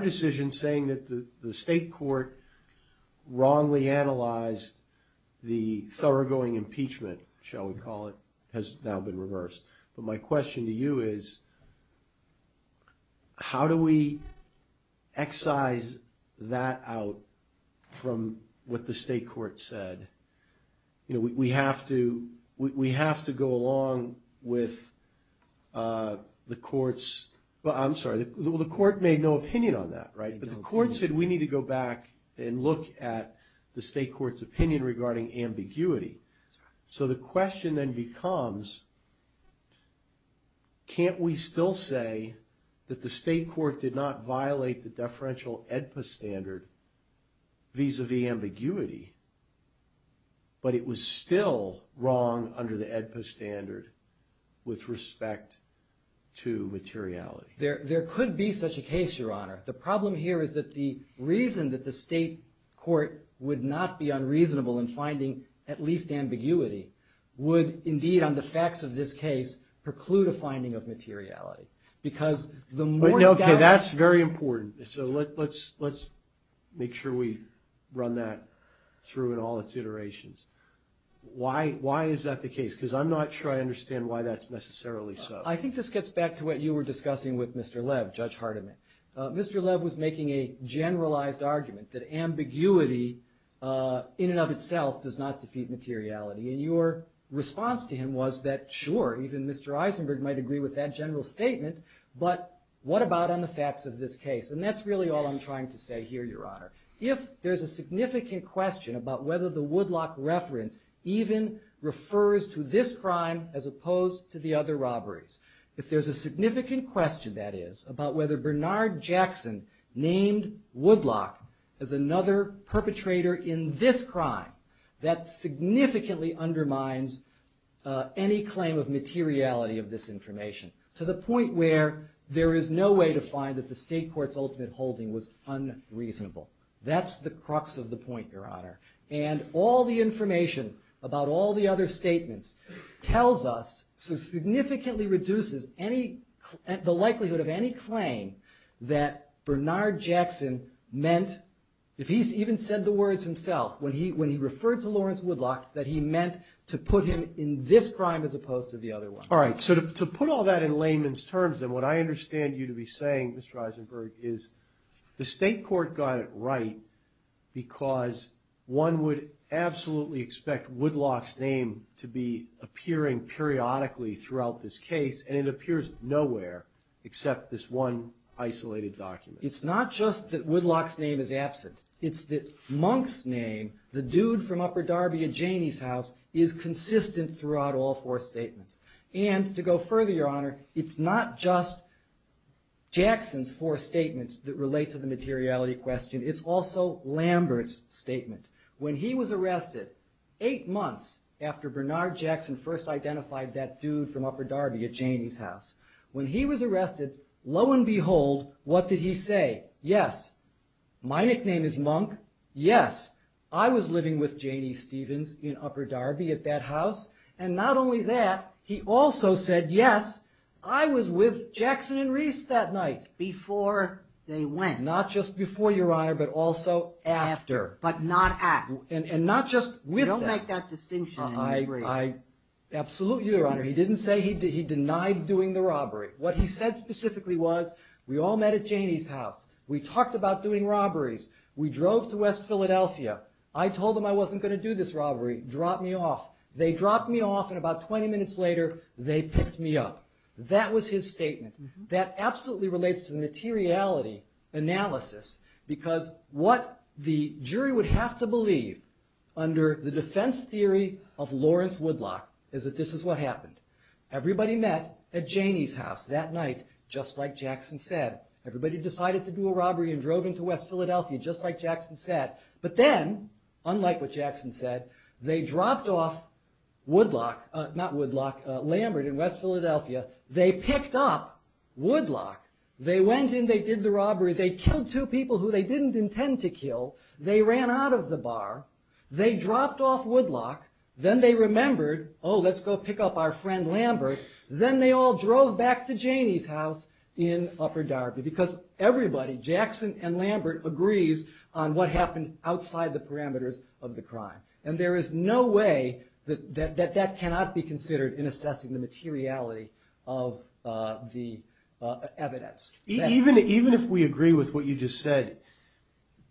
decision saying that the state court wrongly analyzed the thoroughgoing impeachment, shall we call it, has now been reversed. But my question to you is, how do we excise that out from what the state court said? You know, we have to go along with the court's, well, I'm sorry, the court made no opinion on that, right? But the court said we need to go back and look at the state court's opinion regarding ambiguity. So the question then becomes, can't we still say that the state court did not violate the deferential AEDPA standard vis-a-vis ambiguity, but it was still wrong under the AEDPA standard with respect to materiality? There could be such a case, Your Honor. The problem here is that the reason that the state court would not be unreasonable in finding at least ambiguity would indeed, on the facts of this case, preclude a finding of materiality. Okay, that's very important. So let's make sure we run that through in all its iterations. Why is that the case? Because I'm not sure I understand why that's necessarily so. I think this gets back to what you were discussing with Mr. Lev, Judge Hardiman. Mr. Lev was making a generalized argument that ambiguity in and of itself does not defeat materiality. And your response to him was that, sure, even Mr. Eisenberg might agree with that general statement, but what about on the facts of this case? And that's really all I'm trying to say here, Your Honor. If there's a significant question about whether the Woodlock reference even refers to this crime as opposed to the other robberies, if there's a significant question, that is, about whether Bernard Jackson named Woodlock as another perpetrator in this crime that significantly undermines any claim of materiality of this information to the point where there is no way to find that the state court's ultimate holding was unreasonable. That's the crux of the point, Your Honor. And all the information about all the other statements tells us, so significantly reduces the likelihood of any claim that Bernard Jackson meant, if he even said the words himself, when he referred to Lawrence Woodlock, that he meant to put him in this crime as opposed to the other one. All right. So to put all that in layman's terms, and what I understand you to be saying, Mr. Eisenberg, is the state court got it right because one would absolutely expect Woodlock's name to be appearing periodically throughout this case, and it appears nowhere except this one isolated document. It's not just that Woodlock's name is absent. It's that Monk's name, the dude from Upper Darby at Janie's house, is consistent throughout all four statements. And to go further, Your Honor, it's not just Jackson's four statements that relate to the materiality question. It's also Lambert's statement. When he was arrested, eight months after Bernard Jackson first identified that dude from Upper Darby at Janie's house, when he was arrested, lo and behold, what did he say? Yes, my nickname is Monk. Yes, I was living with Janie Stevens in Upper Darby at that house. And not only that, he also said, yes, I was with Jackson and Reese that night. Before they went. Not just before, Your Honor, but also after. But not at. Don't make that distinction. Absolutely, Your Honor. He didn't say he denied doing the robbery. What he said specifically was, we all met at Janie's house. We talked about doing robberies. We drove to West Philadelphia. I told them I wasn't going to do this robbery. Drop me off. They dropped me off, and about 20 minutes later, they picked me up. That was his statement. That absolutely relates to the materiality analysis. Because what the jury would have to believe under the defense theory of Lawrence Woodlock is that this is what happened. Everybody met at Janie's house that night, just like Jackson said. Everybody decided to do a robbery and drove into West Philadelphia, just like Jackson said. But then, unlike what Jackson said, they dropped off Woodlock, not Woodlock, Lambert in West Philadelphia. They picked up Woodlock. They went and they did the robbery. They killed two people who they didn't intend to kill. They ran out of the bar. They dropped off Woodlock. Then they remembered, oh, let's go pick up our friend Lambert. Then they all drove back to Janie's house in Upper Darby. Because everybody, Jackson and Lambert, agrees on what happened outside the parameters of the crime. And there is no way that that cannot be considered in assessing the materiality of the evidence. Even if we agree with what you just said,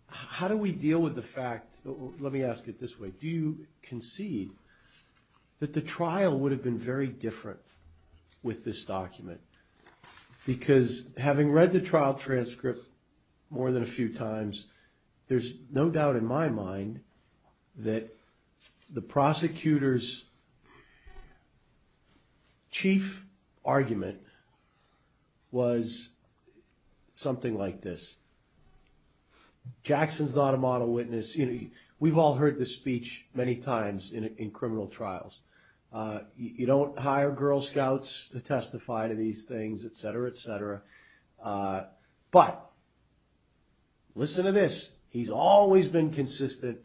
how do we deal with the fact, let me ask it this way, do you concede that the trial would have been very different with this document? Because having read the trial transcript more than a few times, there's no doubt in my mind that the prosecutor's chief argument was something like this. Jackson's not a model witness. We've all heard this speech many times in criminal trials. You don't hire Girl Scouts to testify to these things, etc., etc. But listen to this. He's always been consistent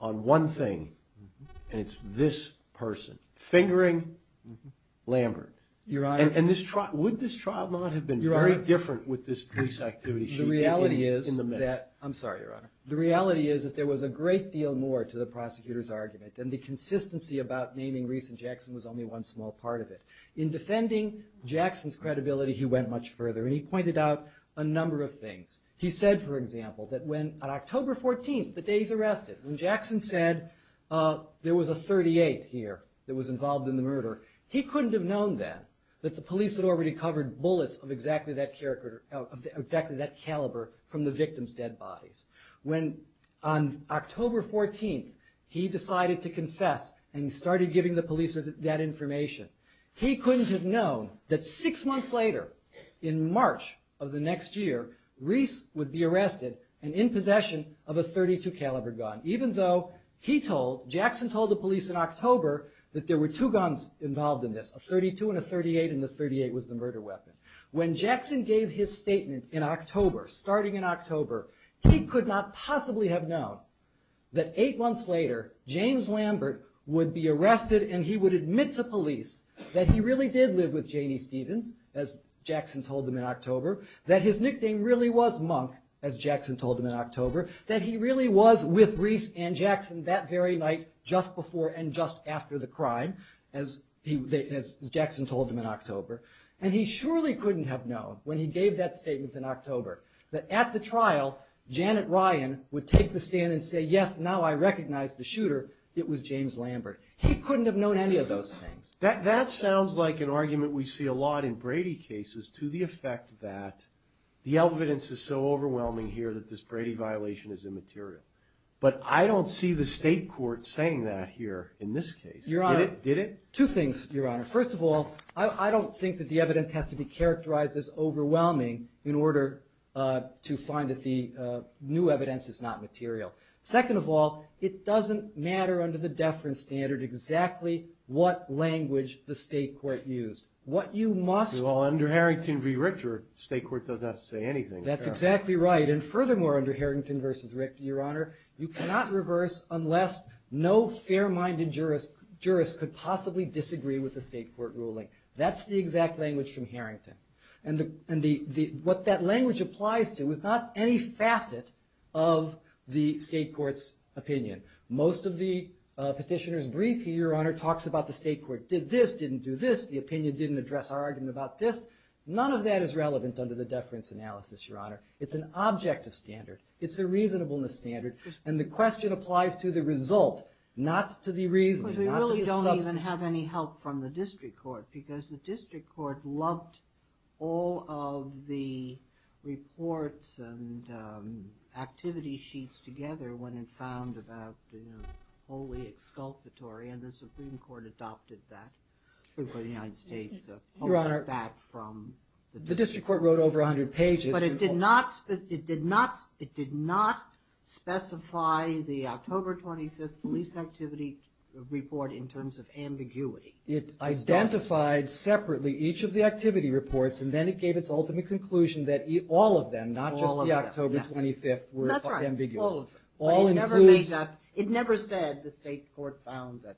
on one thing, and it's this person, fingering Lambert. And would this trial not have been very different with this case activity? I'm sorry, Your Honor. The reality is that there was a great deal more to the prosecutor's argument than the consistency about naming Reese and Jackson was only one small part of it. In defending Jackson's credibility, he went much further, and he pointed out a number of things. He said, for example, that on October 14th, the day he was arrested, when Jackson said there was a 38 here that was involved in the murder, he couldn't have known then that the police had already covered bullets of exactly that caliber from the victim's dead bodies. When, on October 14th, he decided to confess and started giving the police that information, he couldn't have known that six months later, in March of the next year, Reese would be arrested and in possession of a 32-caliber gun, even though he told, Jackson told the police in October that there were two guns involved in this, a 32 and a 38, and the 38 was the murder weapon. When Jackson gave his statement in October, starting in October, he could not possibly have known that eight months later, James Lambert would be arrested and he would admit to police that he really did live with Janie Stevens, as Jackson told them in October, that his nickname really was Monk, as Jackson told them in October, that he really was with Reese and Jackson that very night, just before and just after the crime, as Jackson told them in October, and he surely couldn't have known, when he gave that statement in October, that at the trial, Janet Ryan would take the stand and say, yes, now I recognize the shooter, it was James Lambert. He couldn't have known any of those things. That sounds like an argument we see a lot in Brady cases to the effect that the evidence is so overwhelming here that this Brady violation is immaterial. But I don't see the state court saying that here in this case. Get it? Two things, Your Honor. First of all, I don't think that the evidence has to be characterized as overwhelming in order to find that the new evidence is not material. Second of all, it doesn't matter under the deference standard exactly what language the state court used. Under Harrington v. Richter, the state court does not say anything. That's exactly right. And furthermore, under Harrington v. Richter, Your Honor, you cannot reverse unless no fair-minded jurist could possibly disagree with the state court ruling. That's the exact language from Harrington. And what that language applies to is not any facet of the state court's opinion. Most of the petitioner's brief, Your Honor, talks about the state court did this, didn't do this, the opinion didn't address our argument about this. None of that is relevant under the deference analysis, Your Honor. It's an objective standard. It's a reasonableness standard. And the question applies to the result, not to the reasoning. We really don't even have any help from the district court because the district court lumped all of the reports and activity sheets together when it found about the fully exculpatory and the Supreme Court adopted that. The district court wrote over 100 pages. But it did not specify the October 25th police activity report in terms of ambiguity. It identified separately each of the activity reports and then it gave its ultimate conclusion that all of them, not just the October 25th, were ambiguous. It never said the state court found that.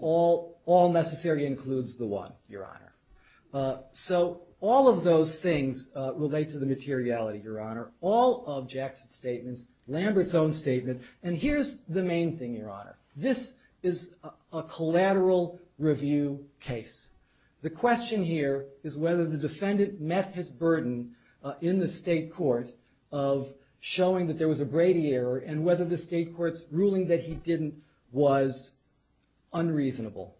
All necessary includes the one, Your Honor. So all of those things relate to the materiality, Your Honor. All of Jackson's statements, Lambert's own statements, and here's the main thing, Your Honor. This is a collateral review case. The question here is whether the defendant met his burden in the state court of showing that there was a Brady error and whether the state court's ruling that he didn't was unreasonable.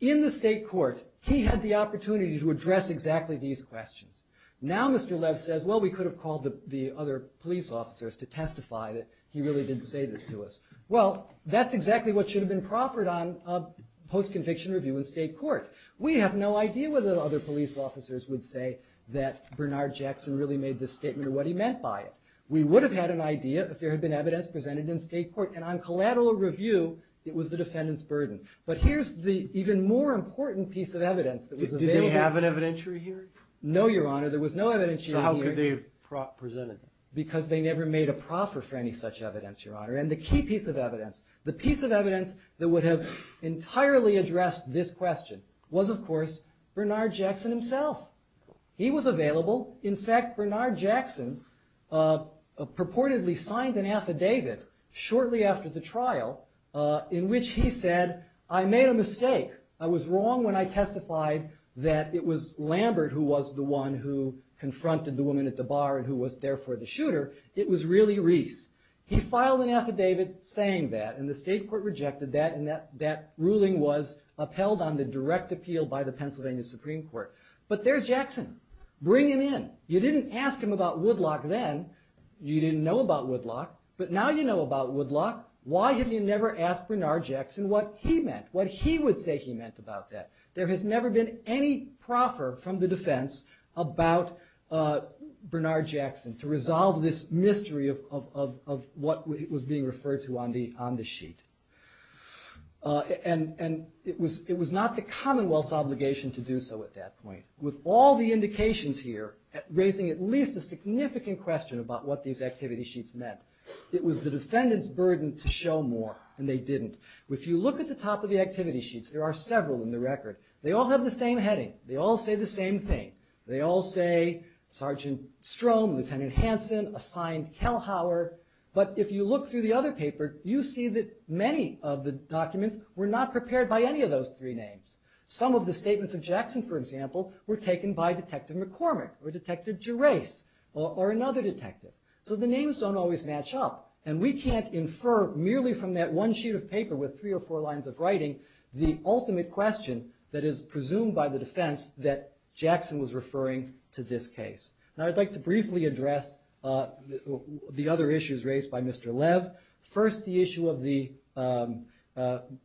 In the state court, he had the opportunity to address exactly these questions. Now Mr. Lev says, well, we could have called the other police officers to testify that he really did say this to us. Well, that's exactly what should have been proffered on a post-conviction review in state court. We have no idea whether the other police officers would say that Bernard Jackson really made this statement or what he meant by it. We would have had an idea if there had been evidence presented in state court and on collateral review, it was the defendant's burden. But here's the even more important piece of evidence. Did they have an evidentiary here? No, Your Honor, there was no evidentiary here. Because they never made a proffer for any such evidence, Your Honor. And the key piece of evidence, the piece of evidence that would have entirely addressed this question was, of course, Bernard Jackson himself. He was available. In fact, Bernard Jackson purportedly signed an affidavit shortly after the trial in which he said, I made a mistake. I was wrong when I testified that it was Lambert who was the one who confronted the woman at the bar and who was therefore the shooter. It was really Reese. He filed an affidavit saying that and the state court rejected that and that ruling was upheld on the direct appeal by the Pennsylvania Supreme Court. But there's Jackson. Bring him in. You didn't ask him about Woodlock then. You didn't know about Woodlock, but now you know about Woodlock. Why did you never ask Bernard Jackson what he meant, what he would say he meant about that? There has never been any proffer from the defense about Bernard Jackson to resolve this mystery of what was being referred to on the sheet. And it was not the Commonwealth's obligation to do so at that point. With all the indications here raising at least a significant question about what these activity sheets meant. It was the defendant's burden to show more and they didn't. If you look at the top of the activity sheets, there are several in the record. They all have the same heading. They all say the same thing. They all say Sgt. Strom, Lt. Hanson, assigned Kelhower. But if you look through the other paper, you see that many of the documents were not prepared by any of those three names. Some of the statements of Jackson, for example, were taken by Detective McCormick or Detective Gerace or another detective. So the names don't always match up. And we can't infer merely from that one sheet of paper with three or four lines of writing the ultimate question that is presumed by the defense that Jackson was referring to this case. Now I'd like to briefly address the other issues raised by Mr. Lev. First, the issue of the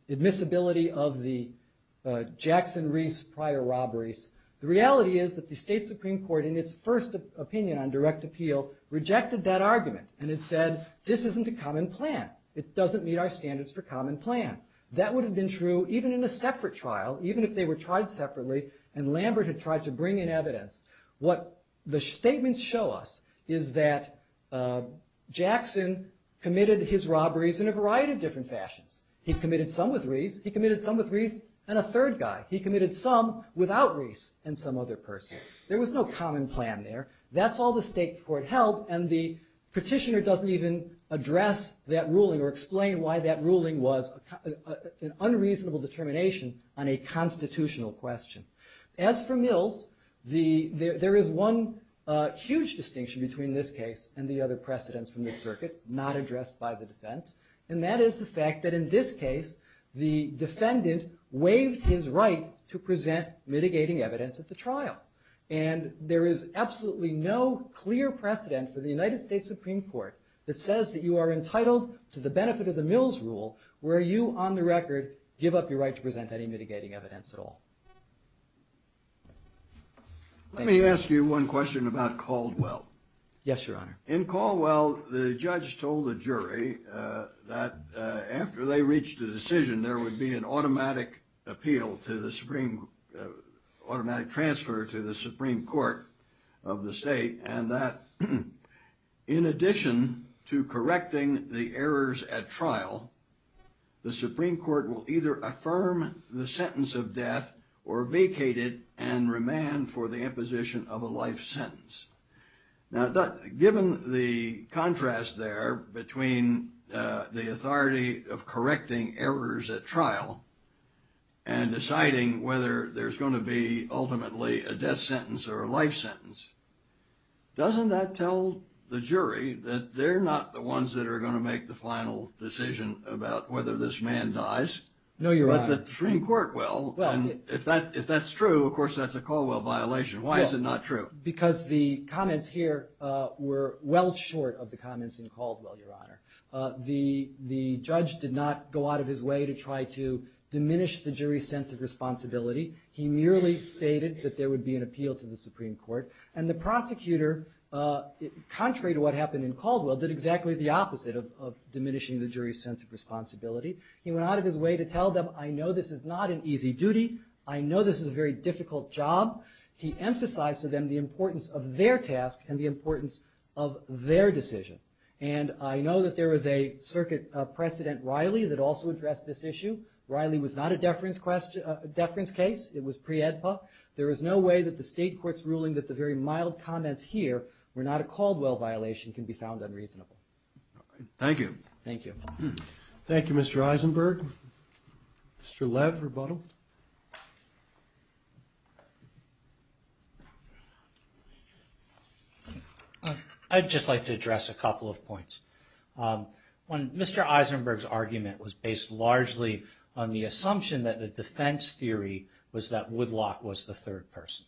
admissibility of the Jackson-Reese prior robberies. The reality is that the state Supreme Court in its first opinion on direct appeal rejected that argument and it said this isn't a common plan. It doesn't meet our standards for common plan. That would have been true even in a separate trial, even if they were tried separately and Lambert had tried to bring in evidence. What the statements show us is that Jackson committed his robberies in a variety of different fashions. He committed some with Reese. He committed some with Reese and a third guy. He committed some without Reese and some other person. There was no common plan there. That's all the state court held and the petitioner doesn't even address that ruling or explain why that ruling was an unreasonable determination on a constitutional question. As for Mills, there is one huge distinction between this case and the other precedents from the circuit not addressed by the defense and that is the fact that in this case the defendant waived his right to present mitigating evidence at the trial and there is absolutely no clear precedent for the United States Supreme Court that says that you are entitled to the benefit of the Mills rule where you on the record give up your right to present any mitigating evidence at all. Let me ask you one question about Caldwell. In Caldwell the judge told the jury that after they reached a decision there would be an automatic appeal to the Supreme Court, automatic transfer to the Supreme Court of the state and that in addition to correcting the errors at trial, the Supreme Court will either affirm the sentence of death or vacate it and remand for the imposition of a life sentence. Now given the contrast there between the authority of correcting errors at trial and deciding whether there's going to be ultimately a death sentence or a life sentence, doesn't that tell the jury that they're not the ones that are going to make the final decision about whether this man dies? No, Your Honor. If that's true, of course that's a Caldwell violation. Why is it not true? Because the comments here were well short of the comments in Caldwell, Your Honor. The judge did not go out of his way to try to diminish the jury's sense of responsibility. He merely stated that there would be an appeal to the Supreme Court and the prosecutor contrary to what happened in Caldwell did exactly the opposite of diminishing the jury's sense of responsibility. He went out of his way to tell them, I know this is not an easy duty, I know this is a very difficult job. He emphasized to them the importance of their task and the importance of their decision. And I know that there was a Circuit President Riley that also addressed this issue. Riley was not a deference case. It was pre-EDPA. There is no way that the state court's ruling that the very mild comments here were not a Caldwell violation can be found unreasonable. Thank you. Thank you, Mr. Eisenberg. Mr. Lev, rebuttal. I'd just like to address a couple of points. Mr. Eisenberg's argument was based largely on the assumption that the defense theory was that Woodlock was the third person.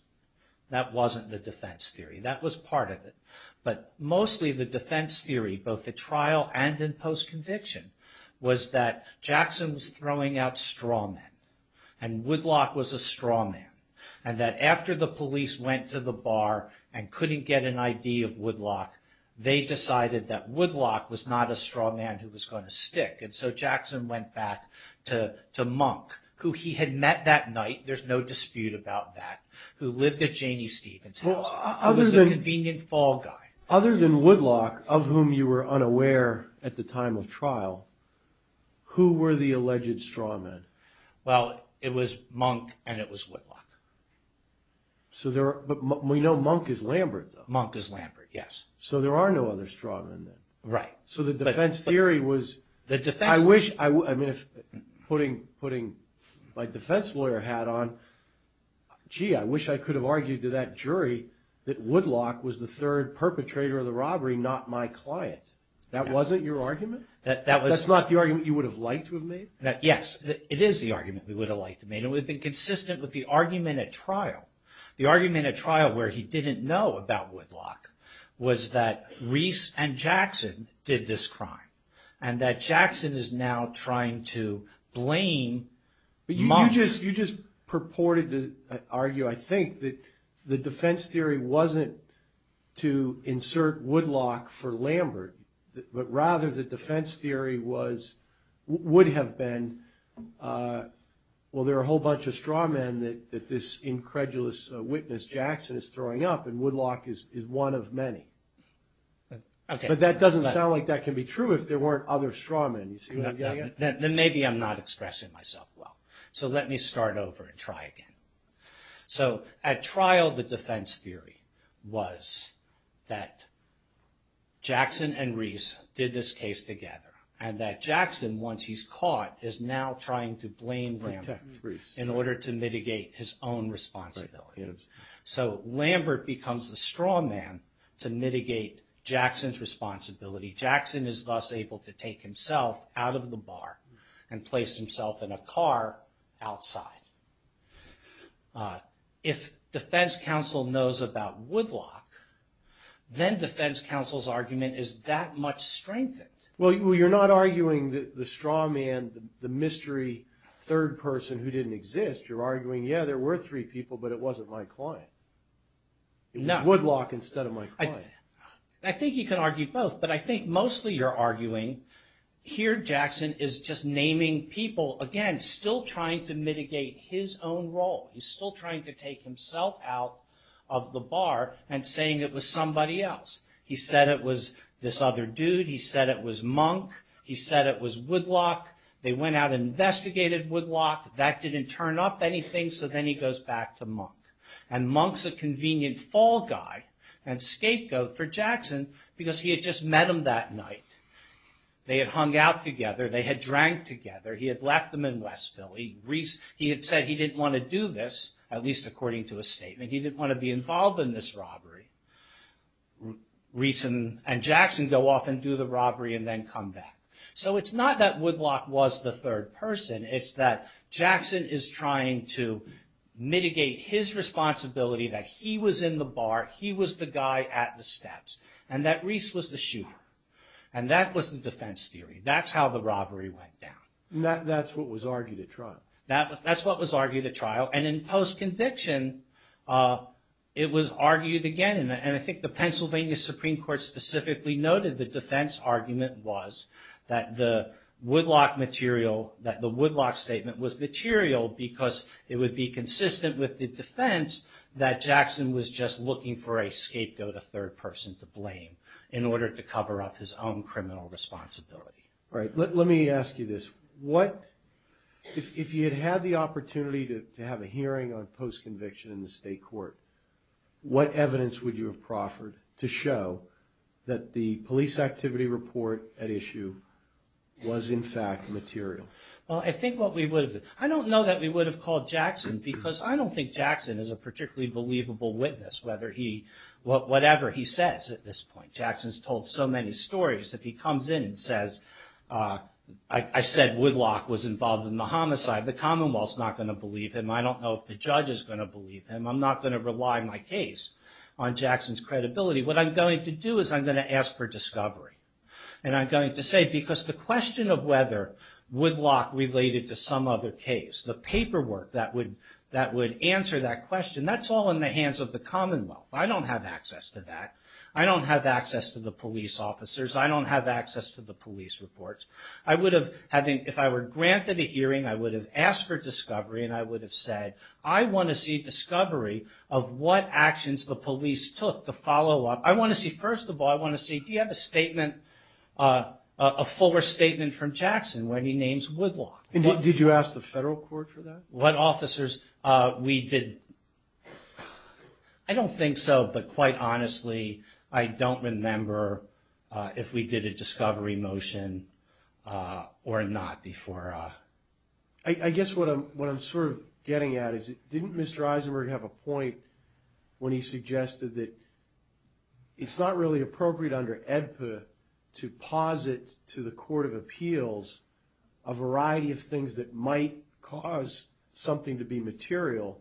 That wasn't the defense theory. That was part of it. But mostly the defense theory, both at trial and in post-conviction, was that Jackson was throwing out straw men and Woodlock was a straw man. And that after the police went to the bar and couldn't get an ID of Woodlock, they decided that Woodlock was not a straw man who was going to stick. And so Jackson went back to Monk, who he had met that night. There's no dispute about that. Other than Woodlock, of whom you were unaware at the time of trial, who were the alleged straw men? Well, it was Monk and it was Woodlock. But we know Monk is Lambert, though. Monk is Lambert, yes. So there are no other straw men then. So the defense theory was... Putting my defense lawyer hat on, gee, I wish I could have argued to that jury that Woodlock was the third perpetrator of the robbery, not my client. That wasn't your argument? That's not the argument you would have liked to have made? Yes, it is the argument we would have liked to have made. It would have been consistent with the argument at trial. The argument at trial where he didn't know about Woodlock was that Reese and Jackson did this crime. And that Jackson is now trying to blame... You just purported to argue, I think, that the defense theory wasn't to insert Woodlock for Lambert, but rather the defense theory would have been, well, there are a whole bunch of straw men that this incredulous witness Jackson is throwing up and Woodlock is one of many. But that doesn't sound like that can be true if there weren't other straw men. Then maybe I'm not expressing myself well. So let me start over and try again. So at trial, the defense theory was that Jackson and Reese did this case together and that Jackson, once he's caught, is now trying to blame Lambert in order to mitigate his own responsibility. So Lambert becomes the straw man to mitigate Jackson's responsibility. Jackson is thus able to take himself out of the bar and place himself in a car outside. If defense counsel knows about Woodlock, then defense counsel's argument is that much strengthened. Well, you're not arguing the straw man, the mystery third person who didn't exist. You're arguing, yeah, there were three people, but it wasn't my client. Woodlock instead of my client. I think you can argue both, but I think mostly you're arguing here Jackson is just naming people, again, still trying to mitigate his own role. He's still trying to take himself out of the bar and saying it was somebody else. He said it was this other dude. He said it was Monk. He said it was Woodlock. They went out and investigated Woodlock. That didn't turn up anything, so then he goes back to Monk. And Monk's a convenient fall guy and scapegoat for Jackson because he had just met him that night. They had hung out together. They had drank together. He had left them in Westville. He had said he didn't want to do this, at least according to a statement. He didn't want to be involved in this robbery. Reese and Jackson go off and do the robbery and then come back. So it's not that Woodlock was the third person. It's that Jackson is trying to mitigate his responsibility that he was in the bar. He was the guy at the steps. And that Reese was the shooter. And that was the defense theory. That's how the robbery went down. And that's what was argued at trial. That's what was argued at trial. And in post-conviction it was argued again. And I think the Pennsylvania Supreme Court specifically noted the defense argument was that the Woodlock statement was material because it would be consistent with the defense that Jackson was just looking for a scapegoat, a third person to blame in order to cover up his own criminal responsibility. Right. Let me ask you this. If you had had the opportunity to have a hearing on post-conviction in the state court, what evidence would you have proffered to show that the police activity report at issue was in fact material? I don't know that we would have called Jackson because I don't think Jackson is a particularly believable witness whatever he says at this point. Jackson's told so many stories that he comes in and says I said Woodlock was involved in the homicide. The commonwealth's not going to believe him. I don't know if the judge is going to believe him. I'm not going to rely my case on Jackson's credibility. What I'm going to do is I'm going to ask for discovery and I'm going to say because the question of whether Woodlock related to some other case, the paperwork that would answer that question, that's all in the hands of the commonwealth. I don't have access to that. I don't have access to the police officers. I don't have access to the police reports. I would have, if I were granted a hearing, I would have asked for discovery and I would have said I want to see discovery of what actions the police took to follow up. I want to see, first of all, I want to see if you have a statement, a fuller statement from Jackson when he names Woodlock. Did you ask the federal court for that? What officers we did, I don't think so, but quite honestly I don't remember if we did a discovery motion or not before. I guess what I'm sort of getting at is didn't Mr. Eisenberg have a point when he suggested that it's not really appropriate under AEDPA to posit to the court of appeals a variety of things that might cause something to be material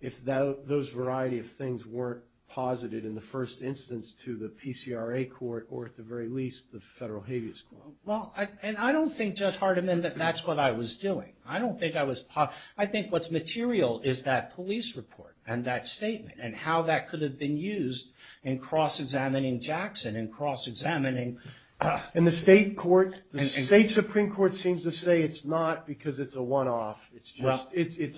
if those variety of things weren't posited in the first instance to the PCRA court or at the very least the federal habeas court? Well, and I don't think, Judge Hardiman, that that's what I was doing. I don't think I was, I think what's that statement and how that could have been used in cross-examining Jackson and cross-examining And the state court, the state supreme court seems to say it's not because it's a one-off. It's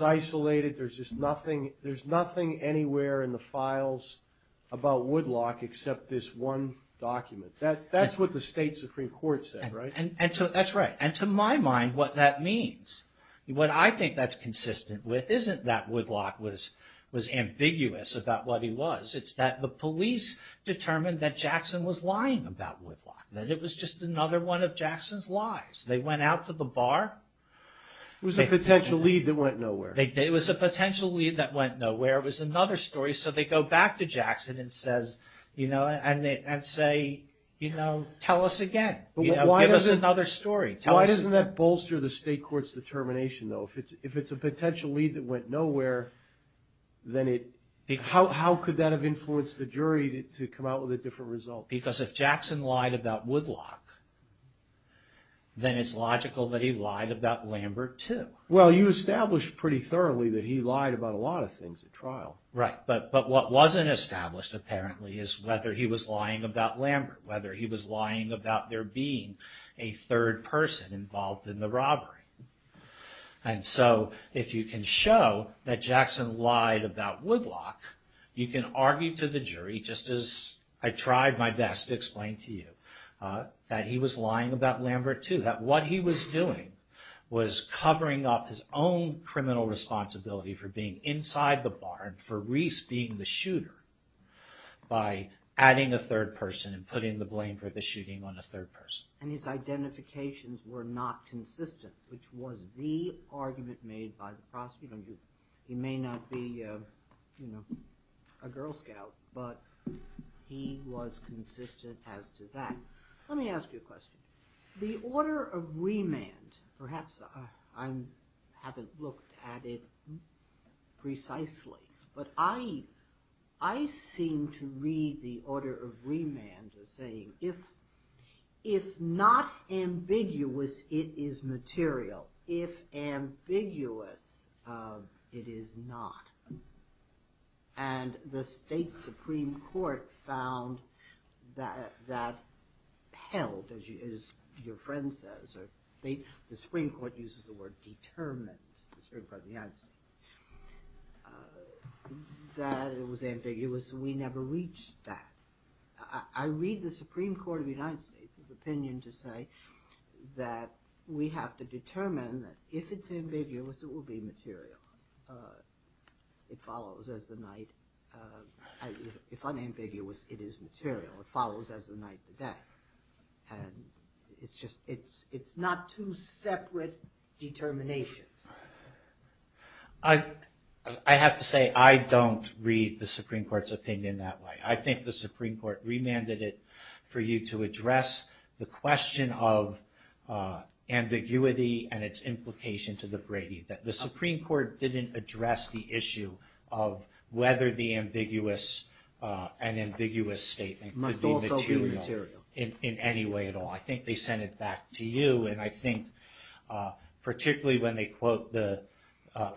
isolated. There's just nothing, there's nothing anywhere in the files about Woodlock except this one document. That's what the state supreme court said, right? And so that's right. And to my mind, what that means, what I think that's ambiguous about what he was, it's that the police determined that Jackson was lying about Woodlock, that it was just another one of Jackson's lies. They went out to the bar. It was a potential lead that went nowhere. It was a potential lead that went nowhere. It was another story. So they go back to Jackson and says, you know, and say, you know, tell us again. Give us another story. Why doesn't that bolster the state court's determination, though? If it's a potential lead that went nowhere, then it, how could that have influenced the jury to come out with a different result? Because if Jackson lied about Woodlock, then it's logical that he lied about Lambert, too. Well, you established pretty thoroughly that he lied about a lot of things at trial. Right. But what wasn't established, apparently, is whether he was lying about Lambert, whether he was lying about there being a third person involved in the robbery. And so if you can show that Jackson lied about Woodlock, you can argue to the jury, just as I tried my best to explain to you, that he was lying about Lambert, too. That what he was doing was covering up his own criminal responsibility for being inside the barn for Reese being the shooter by adding a third person and putting the blame for the shooting on a third person. And his identifications were not consistent, which was the argument made by the prosecutor. He may not be a Girl Scout, but he was consistent as to that. Let me ask you a question. The order of remand, perhaps I haven't looked at it precisely, but I seem to read the If not ambiguous, it is material. If ambiguous, it is not. And the state Supreme Court found that held, as your friend says, the Supreme Court uses the word determined by the United States, that it was ambiguous and we never reached that. I read the Supreme Court of the United States opinion to say that we have to determine that if it's ambiguous, it will be material. It follows as the night If unambiguous, it is material. It follows as the night to death. It's not two separate determinations. I have to say I don't read the Supreme Court's opinion that way. I think the Supreme Court remanded it for you to address the question of ambiguity and its implication to the Brady that the Supreme Court didn't address the issue of whether the ambiguous and ambiguous statement could be material in any way at all. I think they sent it back to you, and I think particularly when they quote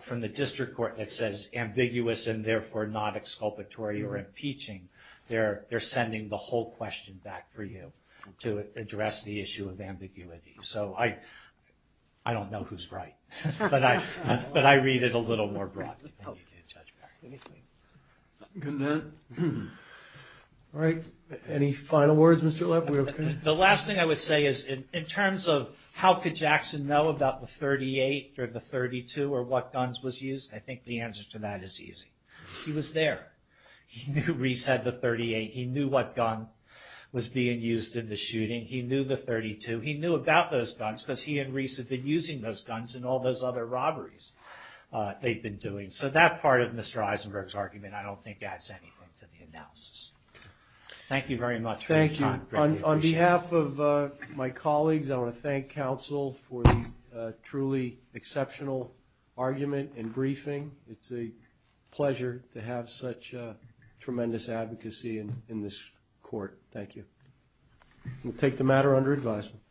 from the inculpatory or impeaching, they're sending the whole question back for you to address the issue of ambiguity. So I don't know who's right, but I read it a little more broadly. All right. Any final words? The last thing I would say is in terms of how could Jackson know about the 38 or the 32 or what guns was used? I think the answer to that is easy. He was there. He knew Reese had the 38. He knew what gun was being used in the shooting. He knew the 32. He knew about those guns because he and Reese had been using those guns in all those other robberies they've been doing. So that part of Mr. Eisenberg's argument I don't think adds anything to the analysis. Thank you very much for your time. Thank you. On behalf of my colleagues, I want to thank counsel for the exceptional argument and briefing. It's a pleasure to have such tremendous advocacy in this court. Thank you. We'll take the matter under advisement.